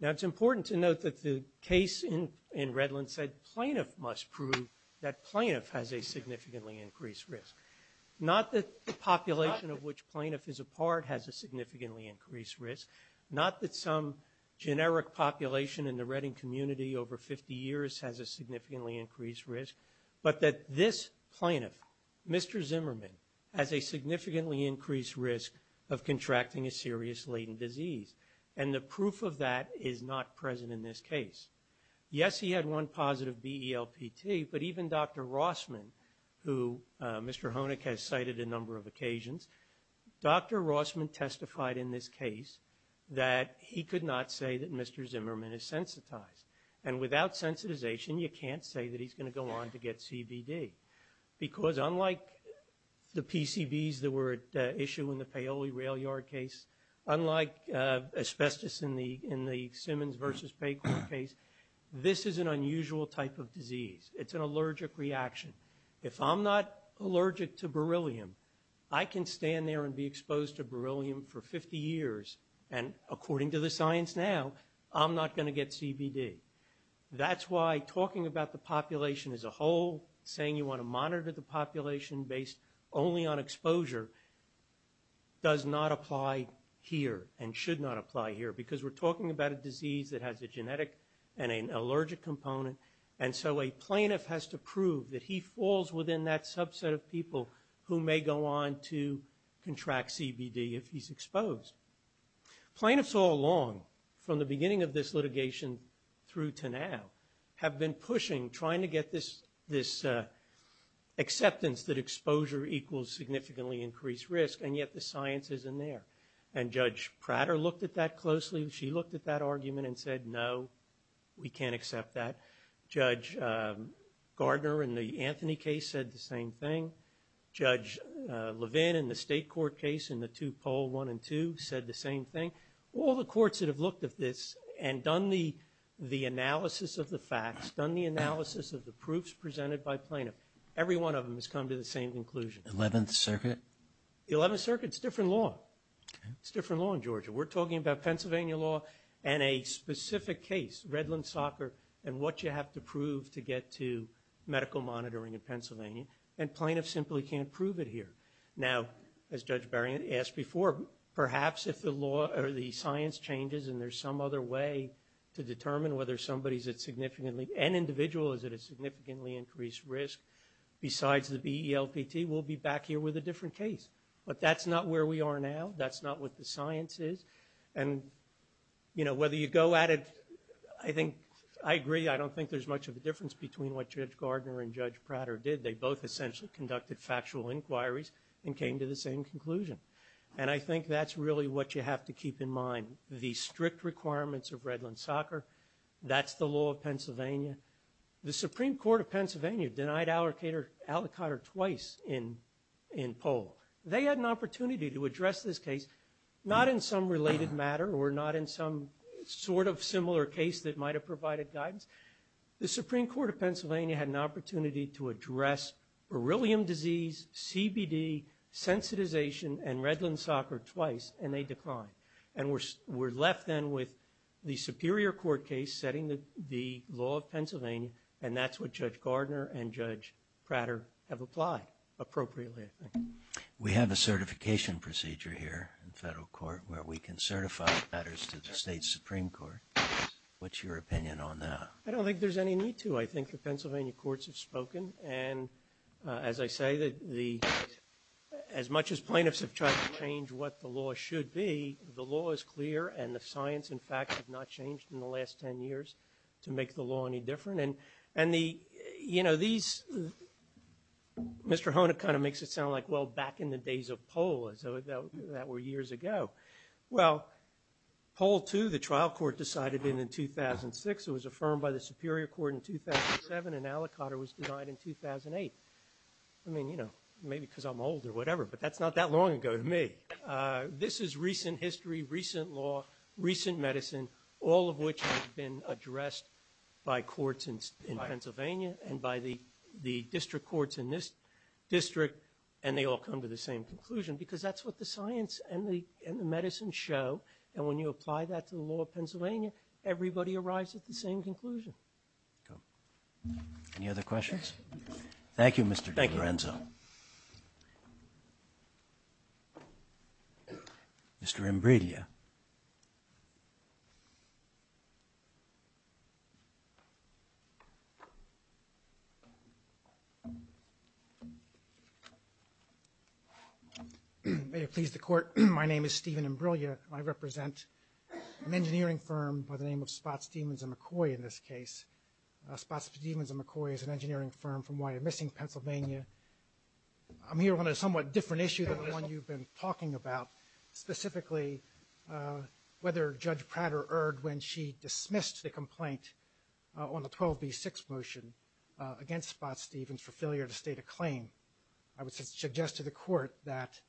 Now, it's important to note that the case in Redland said plaintiff must prove that plaintiff has a significantly increased risk. Not that the population of which plaintiff is a part has a significantly increased risk. Not that some generic population in the Redding community over 50 years has a significantly increased risk, but that this plaintiff, Mr. Zimmerman, has a significantly increased risk of contracting a serious latent disease. And the proof of that is not present in this case. Yes, he had one positive DELPT, but even Dr. Rossman, who Mr. Honig has cited a number of occasions, Dr. Rossman testified in this case that he could not say that Mr. Zimmerman is sensitized. And without sensitization, you can't say that he's going to go on to get CBD. Because unlike the PCBs that were issued in the Paoli rail yard case, unlike asbestos in the Simmons versus Baker case, this is an unusual type of disease. It's an allergic reaction. If I'm not allergic to beryllium, I can stand there and be exposed to beryllium for 50 years and according to the science now, I'm not going to get CBD. That's why talking about the population as a whole, saying you want to monitor the population based only on exposure does not apply here and should not apply here because we're talking about a disease that has a genetic and an allergic component. And so a plaintiff has to prove who may go on to contract CBD if he's exposed. Plaintiffs all along, from the beginning of this litigation through to now, have been pushing trying to get this acceptance that exposure equals significantly increased risk and yet the science isn't there. And Judge Prater looked at that closely. She looked at that argument and said, no, we can't accept that. Judge Gardner in the Anthony case said the same thing. Judge Levin in the state court case in the two poll one and two said the same thing. All the courts that have looked at this and done the analysis of the facts, done the analysis of the proofs presented by plaintiff, every one of them has come to the same conclusion. The 11th Circuit? The 11th Circuit, it's different law. It's different law in Georgia. We're talking about Pennsylvania law and a specific case, Redland soccer, and what you have to prove to get to medical monitoring in Pennsylvania and plaintiffs simply can't prove it here. Now, as Judge Berrient asked before, perhaps if the law or the science changes and there's some other way to determine whether somebody's at significantly, an individual is at a significantly increased risk besides the BELPT, we'll be back here with a different case. But that's not where we are now. That's not what the science is. And, you know, whether you go at it, I think, I agree, I don't think there's much of a difference between what Judge Gardner and Judge Prater did. They both essentially conducted factual inquiries and came to the same conclusion. And I think that's really what you have to keep in mind. The strict requirements of Redland soccer, that's the law of Pennsylvania. The Supreme Court of Pennsylvania denied allocator twice in poll. They had an opportunity to address this case, not in some related matter that might have provided guidance. The Supreme Court of Pennsylvania had an opportunity to address beryllium disease, CBD, sensitization and Redland soccer twice and they declined. And we're left then with the superior court case setting the law of Pennsylvania. And that's what Judge Gardner and Judge Prater have applied appropriately. We have a certification procedure here in federal court where we can certify letters to the state Supreme Court. What's your opinion on that? I don't think there's any need to. I think the Pennsylvania courts have spoken. And as I say, as much as plaintiffs have tried to change what the law should be, the law is clear and the science and facts have not changed in the last 10 years to make the law any different. And Mr. Hona kind of makes it sound like, well, back in the days of poll, that were years ago. Well, poll two, the trial court decided in 2006, it was affirmed by the superior court in 2007 and Alicante was denied in 2008. I mean, maybe because I'm older or whatever, but that's not that long ago to me. This is recent history, recent law, recent medicine, all of which has been addressed by courts in Pennsylvania and by the district courts in this district. And they all come to the same conclusion because that's what the science and the medicine show. And when you apply that to the law of Pennsylvania, everybody arrives at the same conclusion. Any other questions? Thank you, Mr. Lorenzo. Mr. Imbriglia. May it please the court. My name is Steven Imbriglia. I represent an engineering firm by the name of Spots, Demons, and McCoy in this case. Spots, Demons, and McCoy is an engineering firm from Wyomissing, Pennsylvania. I'm here on a somewhat different issue than the one you've been talking about, specifically whether Judge Prater erred when she dismissed the complaint on the 12B6 motion against Spots, Demons for failure to state a claim. I would suggest to the court that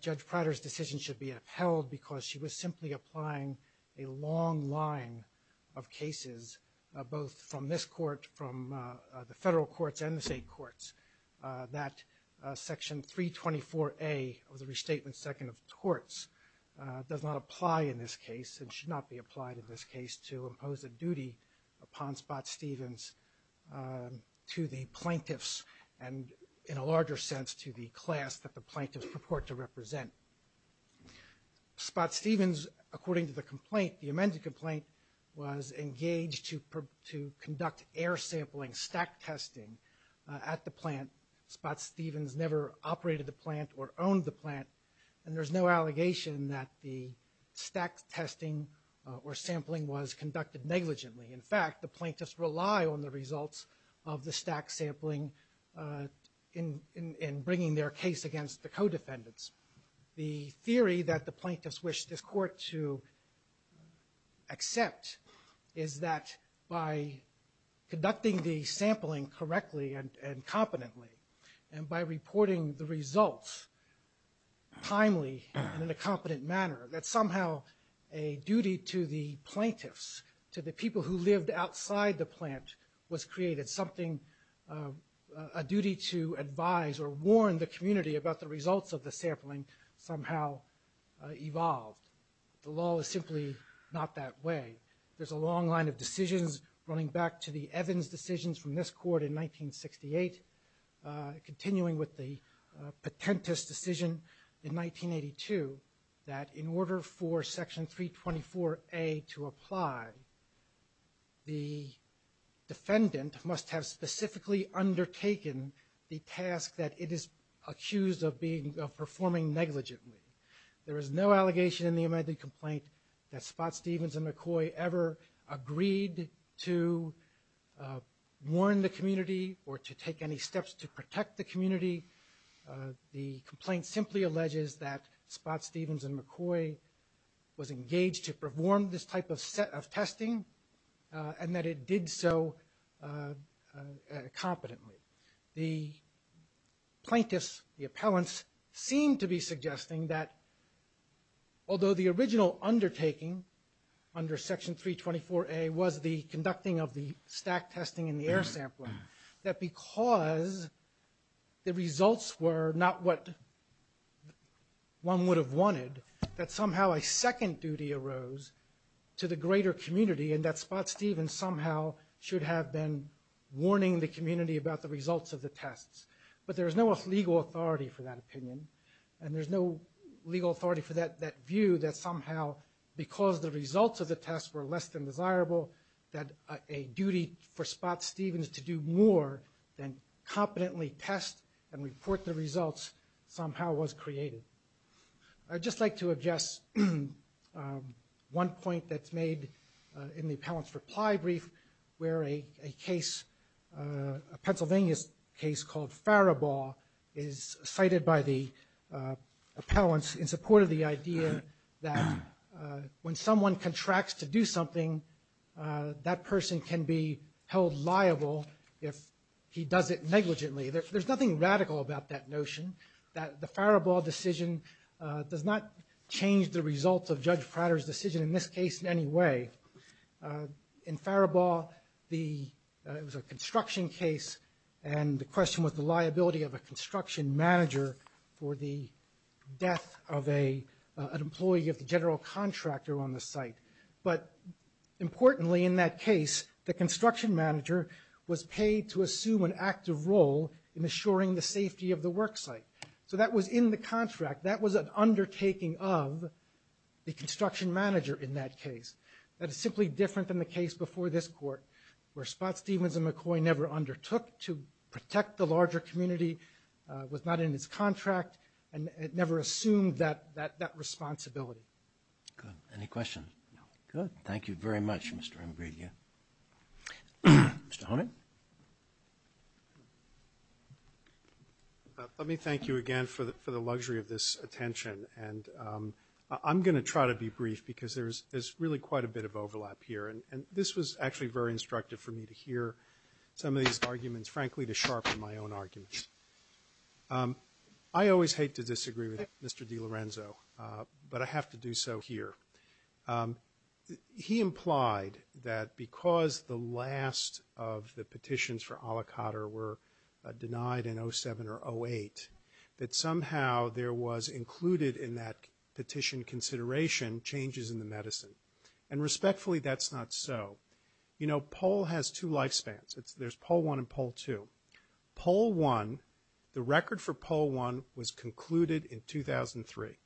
Judge Prater's decision should be upheld because she was simply applying a long line of cases, both from this court, from the federal courts, and the state courts, that Section 324A of the Restatement Second of Torts does not apply in this case and should not be applied in this case to impose a duty upon Spots, Demons to the plaintiffs and, in a larger sense, to the class that the plaintiffs report to represent. Spots, Demons, according to the complaint, the amended complaint, was engaged to conduct air sampling, stack testing at the plant. Spots, Demons never operated the plant or owned the plant, and there's no allegation that the stack testing or sampling was conducted negligently. In fact, the plaintiffs rely on the results of the stack sampling in bringing their case against the co-defendants. The theory that the plaintiffs wish this court to accept is that by conducting the sampling correctly and competently and by reporting the results timely and in a competent manner, that somehow a duty to the plaintiffs, to the people who lived outside the plant, was created, something, a duty to advise or warn the community about the results of the sampling somehow evolved. The law is simply not that way. There's a long line of decisions running back to the Evans decisions from this court in 1968, continuing with the Patentes decision in 1982, that in order for Section 324A to apply, the defendant must have specifically undertaken the task that it is accused of performing negligently. There is no allegation in the amended complaint that Spot-Stevens and McCoy ever agreed to warn the community or to take any steps to protect the community. The complaint simply alleges that Spot-Stevens and McCoy was engaged to perform this type of testing and that it did so competently. The plaintiffs, the appellants, seem to be suggesting that although the original undertaking under Section 324A was the conducting of the stack testing in the air sampling, that because the results were not what one would have wanted, that somehow a second duty arose to the greater community and that Spot-Stevens somehow should have been to warn the community about the results of the tests. But there's no legal authority for that opinion and there's no legal authority for that view that somehow because the results of the tests were less than desirable, that a duty for Spot-Stevens to do more than competently test and report the results somehow was created. I'd just like to address one point that's made in the appellant's reply brief where a case, a Pennsylvania case called Faribault is cited by the appellants in support of the idea that when someone contracts to do something, that person can be held liable if he does it negligently. There's nothing radical about that notion that the Faribault decision does not change the results of Judge Prater's decision in this case in any way. In Faribault, the construction case and the question was the liability of a construction manager for the death of an employee of the general contractor on the site. But importantly in that case, the construction manager was paid to assume an active role in assuring the safety of the worksite. So that was in the contract. That was an undertaking of the construction manager in that case. That is simply different than the case before this court where Scott Stevens and McCoy never undertook to protect the larger community, was not in his contract and never assumed that responsibility. Good, any questions? Good, thank you very much, Mr. O'Grady. Mr. Honig? Let me thank you again for the luxury of this attention and I'm gonna try to be brief because there's really quite a bit of overlap here. And this was actually very instructive for me to hear some of these arguments, frankly, to sharpen my own arguments. I always hate to disagree with Mr. DiLorenzo, but I have to do so here. He implied that because the last of the petitions for Alicante were denied in 07 or 08, that somehow there was included in that petition consideration changes in the medicine. And respectfully, that's not so. You know, poll has two lifespans. There's poll one and poll two. Poll one, the record for poll one was concluded in 2003.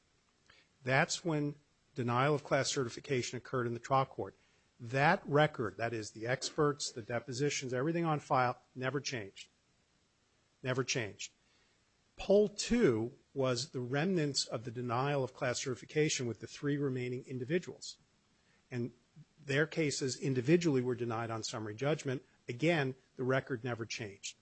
That's when denial of class certification occurred in the trial court. That record, that is the experts, the depositions, everything on file, never changed, never changed. Poll two was the remnants of the denial of class certification with the three remaining individuals. And their cases individually were denied on summary judgment. Again, the record never changed.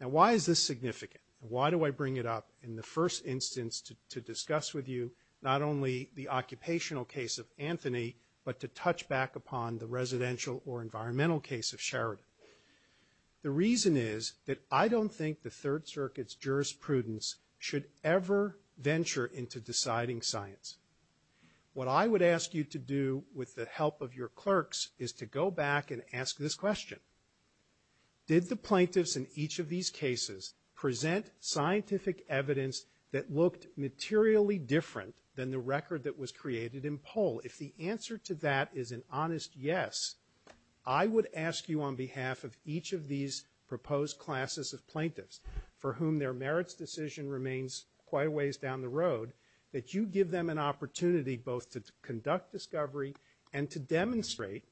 Now, why is this significant? Why do I bring it up in the first instance to discuss with you, not only the occupational case of Anthony, but to touch back upon the residential or environmental case of Sheridan? The reason is that I don't think the Third Circuit's jurisprudence should ever venture into deciding science. What I would ask you to do with the help of your clerks is to go back and ask this question. Did the plaintiffs in each of these cases present scientific evidence that looked materially different than the record that was created in poll? If the answer to that is an honest yes, I would ask you on behalf of each of these proposed classes of plaintiffs, for whom their merits decision remains quite a ways down the road, that you give them an opportunity both to conduct discovery and to demonstrate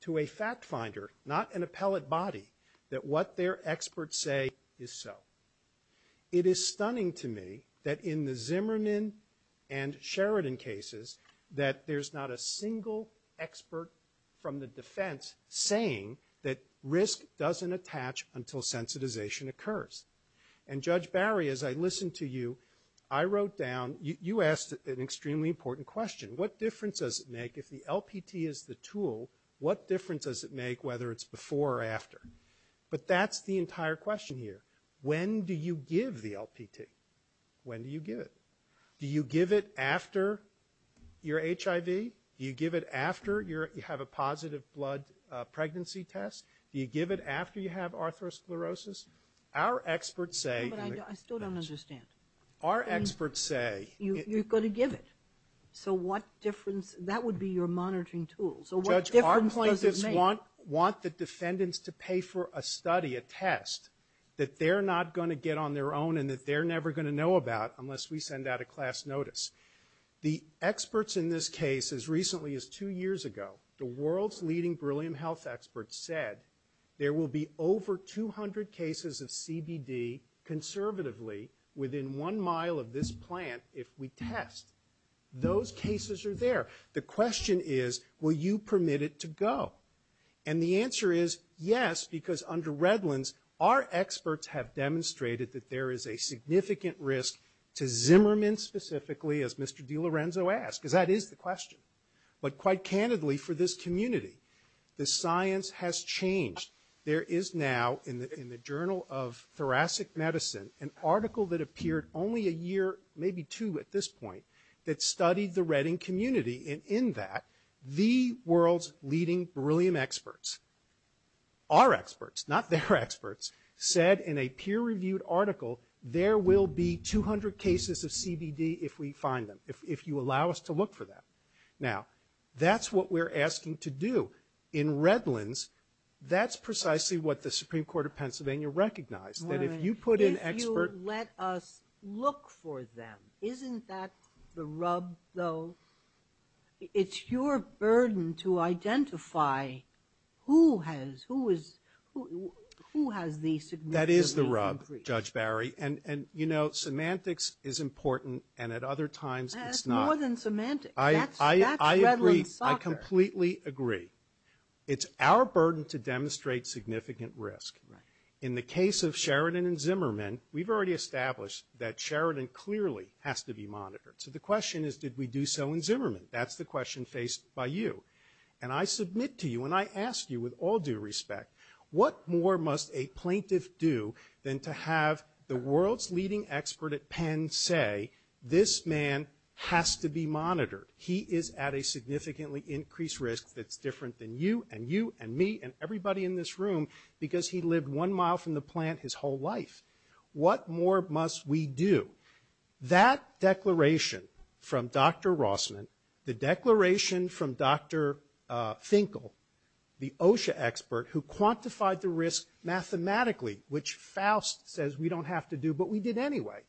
to a fact finder, not an appellate body, that what their experts say is so. It is stunning to me that in the Zimmerman and Sheridan cases, that there's not a single expert from the defense saying that risk doesn't attach until sensitization occurs. And Judge Barry, as I listened to you, I wrote down, you asked an extremely important question. What difference does it make if the LPT is the tool, what difference does it make whether it's before or after? But that's the entire question here. When do you give the LPT? When do you give it? Do you give it after your HIV? Do you give it after you have a positive blood pregnancy test? Do you give it after you have atherosclerosis? Our experts say- But I still don't understand. Our experts say- You're going to give it. So what difference, that would be your monitoring tool. So what difference does it make? Judge, our plaintiffs want the defendants to pay for a study, a test, that they're not going to get on their own and that they're never going to know about unless we send out a class notice. The experts in this case, as recently as two years ago, the world's leading beryllium health experts said there will be over 200 cases of CBD conservatively within one mile of this plant if we test. Those cases are there. The question is, will you permit it to go? And the answer is yes, because under Redlands, our experts have demonstrated that there is a significant risk to Zimmerman specifically, as Mr. DiLorenzo asked, because that is the question. But quite candidly, for this community, the science has changed. There is now, in the Journal of Thoracic Medicine, an article that appeared only a year, maybe two at this point, that studied the Redding community. And in that, the world's leading beryllium experts, our experts, not their experts, said in a peer-reviewed article there will be 200 cases of CBD if we find them, if you allow us to look for them. Now, that's what we're asking to do. In Redlands, that's precisely what the Supreme Court of Pennsylvania recognized, that if you put an expert... If you let us look for them, isn't that the rub, though? It's your burden to identify who has the significant... That is the rub, Judge Barry. You know, semantics is important, and at other times, it's not. It's more than semantics. That's Redland's author. I completely agree. It's our burden to demonstrate significant risk. In the case of Sheridan and Zimmerman, we've already established that Sheridan clearly has to be monitored. So the question is, did we do so in Zimmerman? That's the question faced by you. And I submit to you, and I ask you with all due respect, what more must a plaintiff do than to have the world's leading expert at Penn say, this man has to be monitored. He is at a significantly increased risk that's different than you, and you, and me, and everybody in this room, because he lived one mile from the plant his whole life. What more must we do? That declaration from Dr. Rossman, the declaration from Dr. Finkel, the OSHA expert, who quantified the risk mathematically, which Faust says we don't have to do, but we did anyway.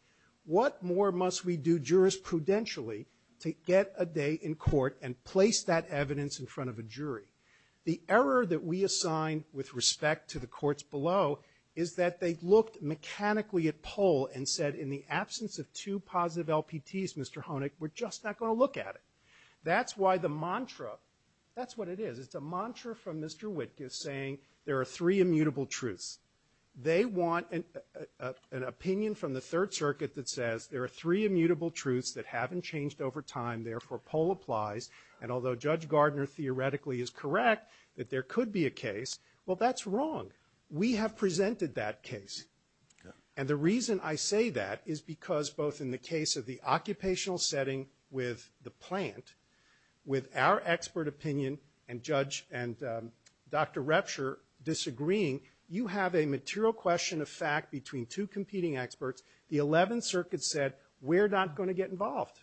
What more must we do jurisprudentially to get a day in court and place that evidence in front of a jury? The error that we assign with respect to the courts below is that they've looked mechanically at Pohl and said, in the absence of two positive LPTs, Mr. Honig, we're just not going to look at it. That's why the mantra, that's what it is. It's a mantra from Mr. Witk is saying there are three immutable truths. They want an opinion from the Third Circuit that says there are three immutable truths that haven't changed over time. Therefore, Pohl applies. And although Judge Gardner theoretically is correct that there could be a case, well, that's wrong. We have presented that case. And the reason I say that is because both in the case of the occupational setting with the plant, with our expert opinion and Judge and Dr. Repscher disagreeing, you have a material question of fact between two competing experts. The 11th Circuit said, we're not going to get involved.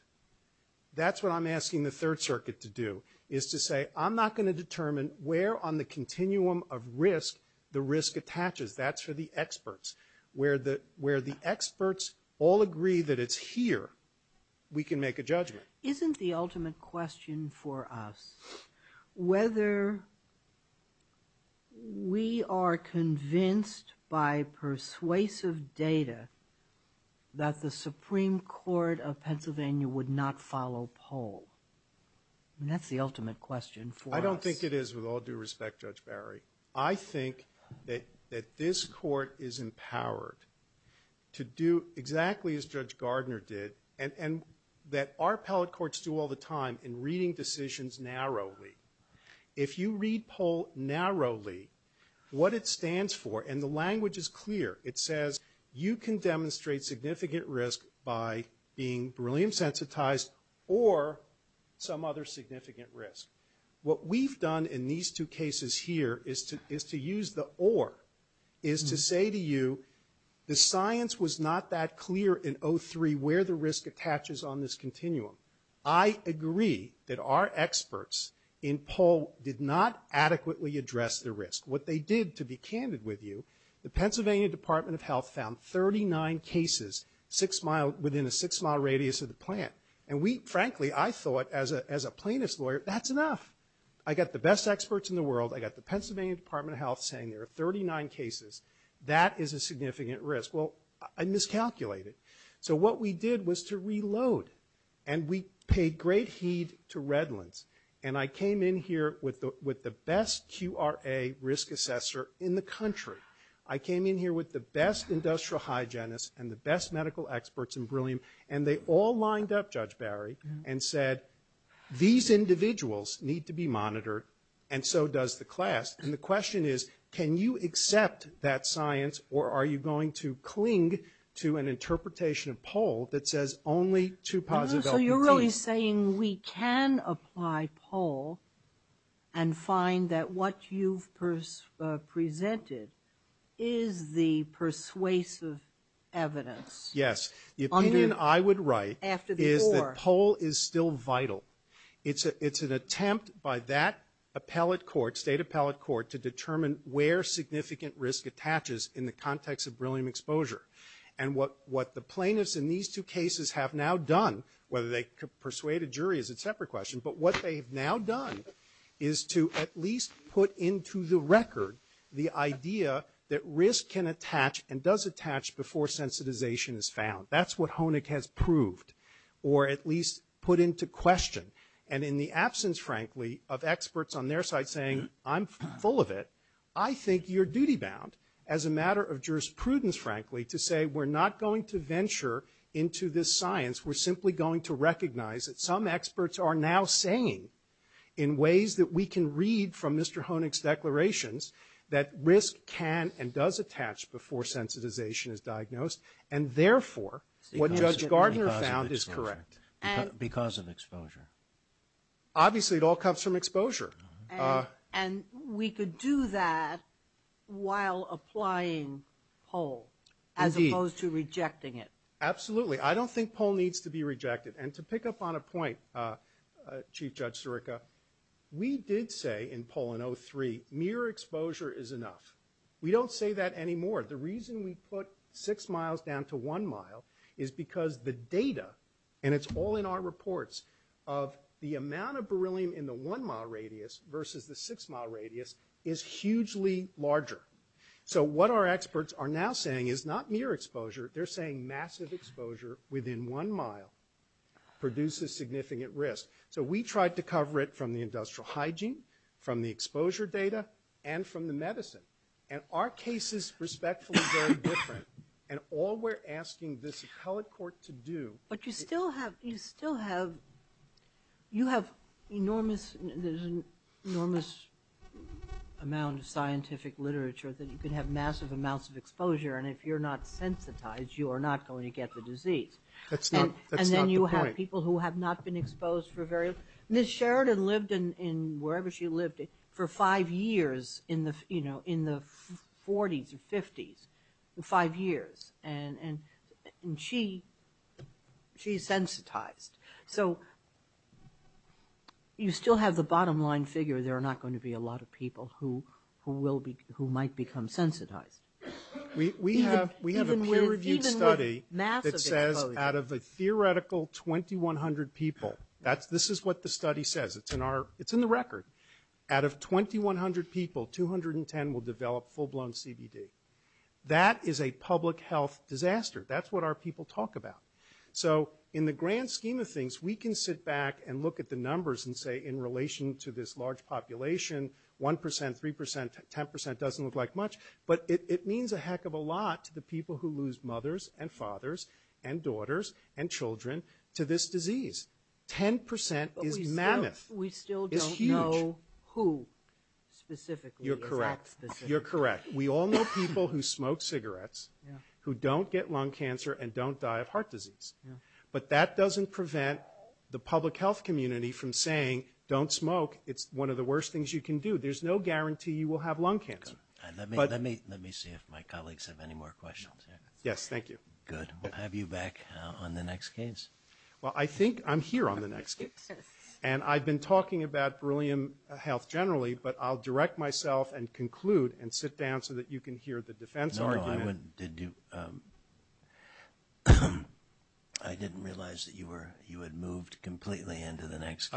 That's what I'm asking the Third Circuit to do is to say, I'm not going to determine where on the continuum of risk the risk attaches. That's for the experts. Where the experts all agree that it's here, we can make a judgment. Isn't the ultimate question for us whether we are convinced by persuasive data that the Supreme Court of Pennsylvania would not follow Pohl? And that's the ultimate question for us. I don't think it is with all due respect, Judge Barry. I think that this court is empowered to do exactly as Judge Gardner did and that our appellate courts do all the time in reading decisions narrowly. If you read Pohl narrowly, what it stands for, and the language is clear, it says you can demonstrate significant risk by being beryllium sensitized or some other significant risk. What we've done in these two cases here is to use the or, is to say to you, the science was not that clear in 03 where the risk attaches on this continuum. I agree that our experts in Pohl did not adequately address the risk. What they did, to be candid with you, the Pennsylvania Department of Health found 39 cases within a six mile radius of the plant. And we, frankly, I thought as a plaintiff's lawyer, that's enough. I got the best experts in the world. I got the Pennsylvania Department of Health saying there are 39 cases. That is a significant risk. Well, I miscalculated. So what we did was to reload and we paid great heed to Redlands. And I came in here with the best QRA risk assessor in the country. I came in here with the best industrial hygienists and the best medical experts in beryllium, and they all lined up, Judge Barry, and said, these individuals need to be monitored and so does the class. And the question is, can you accept that science or are you going to cling to an interpretation of Pohl that says only two positive. So you're really saying we can apply Pohl and find that what you presented is the persuasive evidence. Yes. The opinion I would write is that Pohl is still vital. It's an attempt by that appellate court, state appellate court, to determine where significant risk attaches in the context of beryllium exposure. And what the plaintiffs in these two cases have now done, whether they persuade a jury is a separate question, but what they've now done is to at least put into the record the idea that risk can attach and does attach before sensitization is found. That's what Honig has proved or at least put into question. And in the absence, frankly, I'm full of it, I think you're duty bound as a matter of jurisprudence, frankly, to say we're not going to venture into this science. We're simply going to recognize that some experts are now saying in ways that we can read from Mr. Honig's declarations that risk can and does attach before sensitization is diagnosed. And therefore, what Judge Gardner found is correct. Because of exposure. Obviously, it all comes from exposure. And we could do that while applying Pohl. As opposed to rejecting it. Absolutely. I don't think Pohl needs to be rejected. And to pick up on a point, Chief Judge Sirica, we did say in Pohl in 03, mere exposure is enough. We don't say that anymore. The reason we put six miles down to one mile is because the data, and it's all in our reports of the amount of beryllium in the one mile radius versus the six mile radius is hugely larger. So what our experts are now saying is not mere exposure. They're saying massive exposure within one mile produces significant risk. So we tried to cover it from the industrial hygiene, from the exposure data, and from the medicine. And our case is respectfully very different. And all we're asking But you still have, you still have, you have enormous, there's an enormous amount of scientific literature that you could have massive amounts of exposure. And if you're not sensitized, you are not going to get the disease. And then you have people who have not been exposed for various, Ms. Sheridan lived in, wherever she lived, for five years in the, you know, in the 40s or 50s, five years. And she's sensitized. So you still have the bottom line figure there are not going to be a lot of people who, who will be, who might become sensitized. We have, we have a peer-reviewed study that says out of the theoretical 2100 people, that's, this is what the study says. It's in our, it's in the record. Out of 2100 people, 210 will develop full-blown CBD. That is a public health disaster. That's what our people talk about. So in the grand scheme of things, we can sit back and look at the numbers and say in relation to this large population, 1%, 3%, 10% doesn't look like much, but it means a heck of a lot to the people who lose mothers and fathers and daughters and children to this disease. 10% is mammoth. We still don't know who specifically. You're correct. You're correct. We all know people who smoke cigarettes, who don't get lung cancer and don't die of heart disease. But that doesn't prevent the public health community from saying don't smoke. It's one of the worst things you can do. There's no guarantee you will have lung cancer. Let me see if my colleagues have any more questions. Yes, thank you. Good. We'll have you back on the next case. Well, I think I'm here on the next case. And I've been talking about beryllium health generally, but I'll direct myself and conclude and sit down so that you can hear the defense. I didn't realize that you were, you had moved completely into the next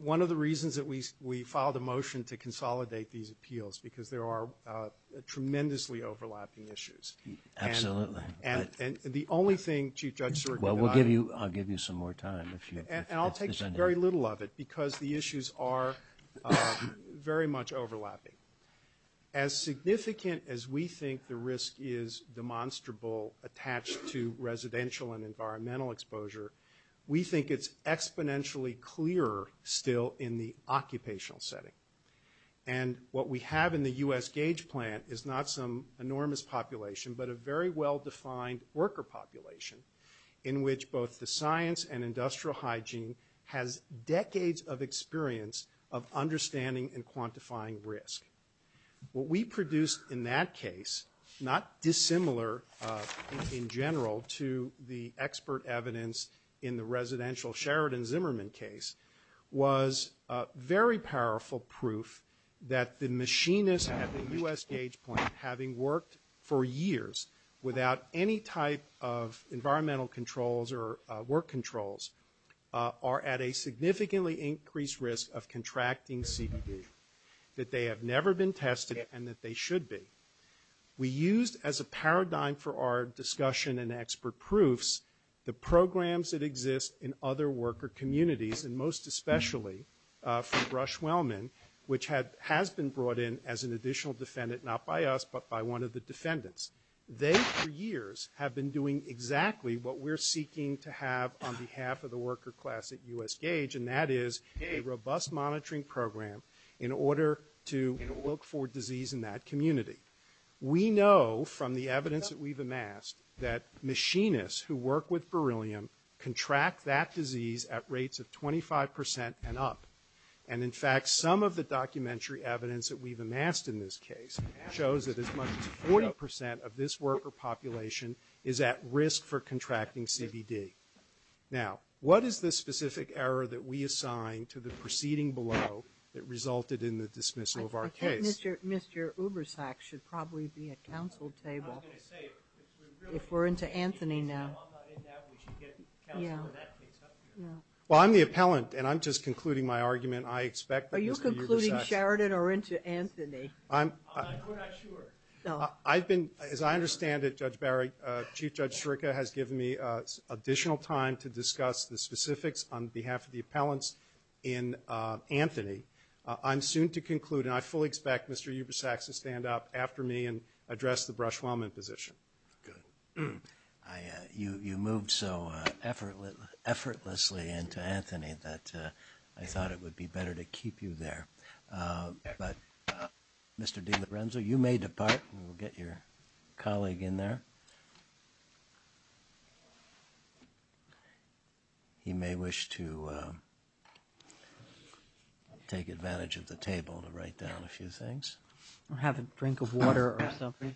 one of the reasons that we we filed a motion to consolidate these appeals because there are tremendously overlapping issues. Absolutely. And the only thing, Chief Judge, well, we'll give you I'll give you some more time. I'll take very little of it because the issues are very much overlapping. As significant as we think the risk is demonstrable attached to residential and environmental exposure. We think it's exponentially clearer still in the occupational setting. And what we have in the U.S. Gage plant is not some enormous population, but a very well-defined worker population in which both the science and industrial hygiene has decades of experience of understanding and quantifying risk. What we produce in that case, not dissimilar in general to the expert evidence in the residential Sheridan Zimmerman case was very powerful proof that the machinists at the U.S. Gage plant having worked for years without any type of environmental controls or work controls are at a significantly increased risk of contracting CPD. That they have never been tested and that they should be. We used as a paradigm for our discussion and expert proofs the programs that exist in other worker communities and most especially from Rush Wellman which has been brought in as an additional defendant, not by us, but by one of the defendants. They for years have been doing exactly what we're seeking to have on behalf of the worker class at U.S. Gage and that is a robust monitoring program in order to look for disease in that community. We know from the evidence that we've amassed that machinists who work with beryllium contract that disease at rates of 25% and up. And in fact, some of the documentary evidence that we've amassed in this case shows that as much as 40% of this worker population is at risk for contracting CPD. Now, what is the specific error that we assign to the proceeding below that resulted in the dismissal of our case? Mr. Ubersack should probably be at the council table. If we're into Anthony now. Well, I'm the appellant and I'm just concluding my argument. I expect that... Are you concluding Sheridan or into Anthony? I've been, as I understand it, Judge Barry, Chief Judge Shurka has given me additional time to discuss the specifics on behalf of the appellants in Anthony. I'm soon to conclude and I fully expect Mr. Ubersack to stand up after me and address the Brush-Wellman position. Good. You moved so effortlessly into Anthony that I thought it would be better to keep you there. But Mr. DiLorenzo, you may depart and we'll get your colleague in there. He may wish to take advantage of the table to write down a few things. Or have a drink of water or something.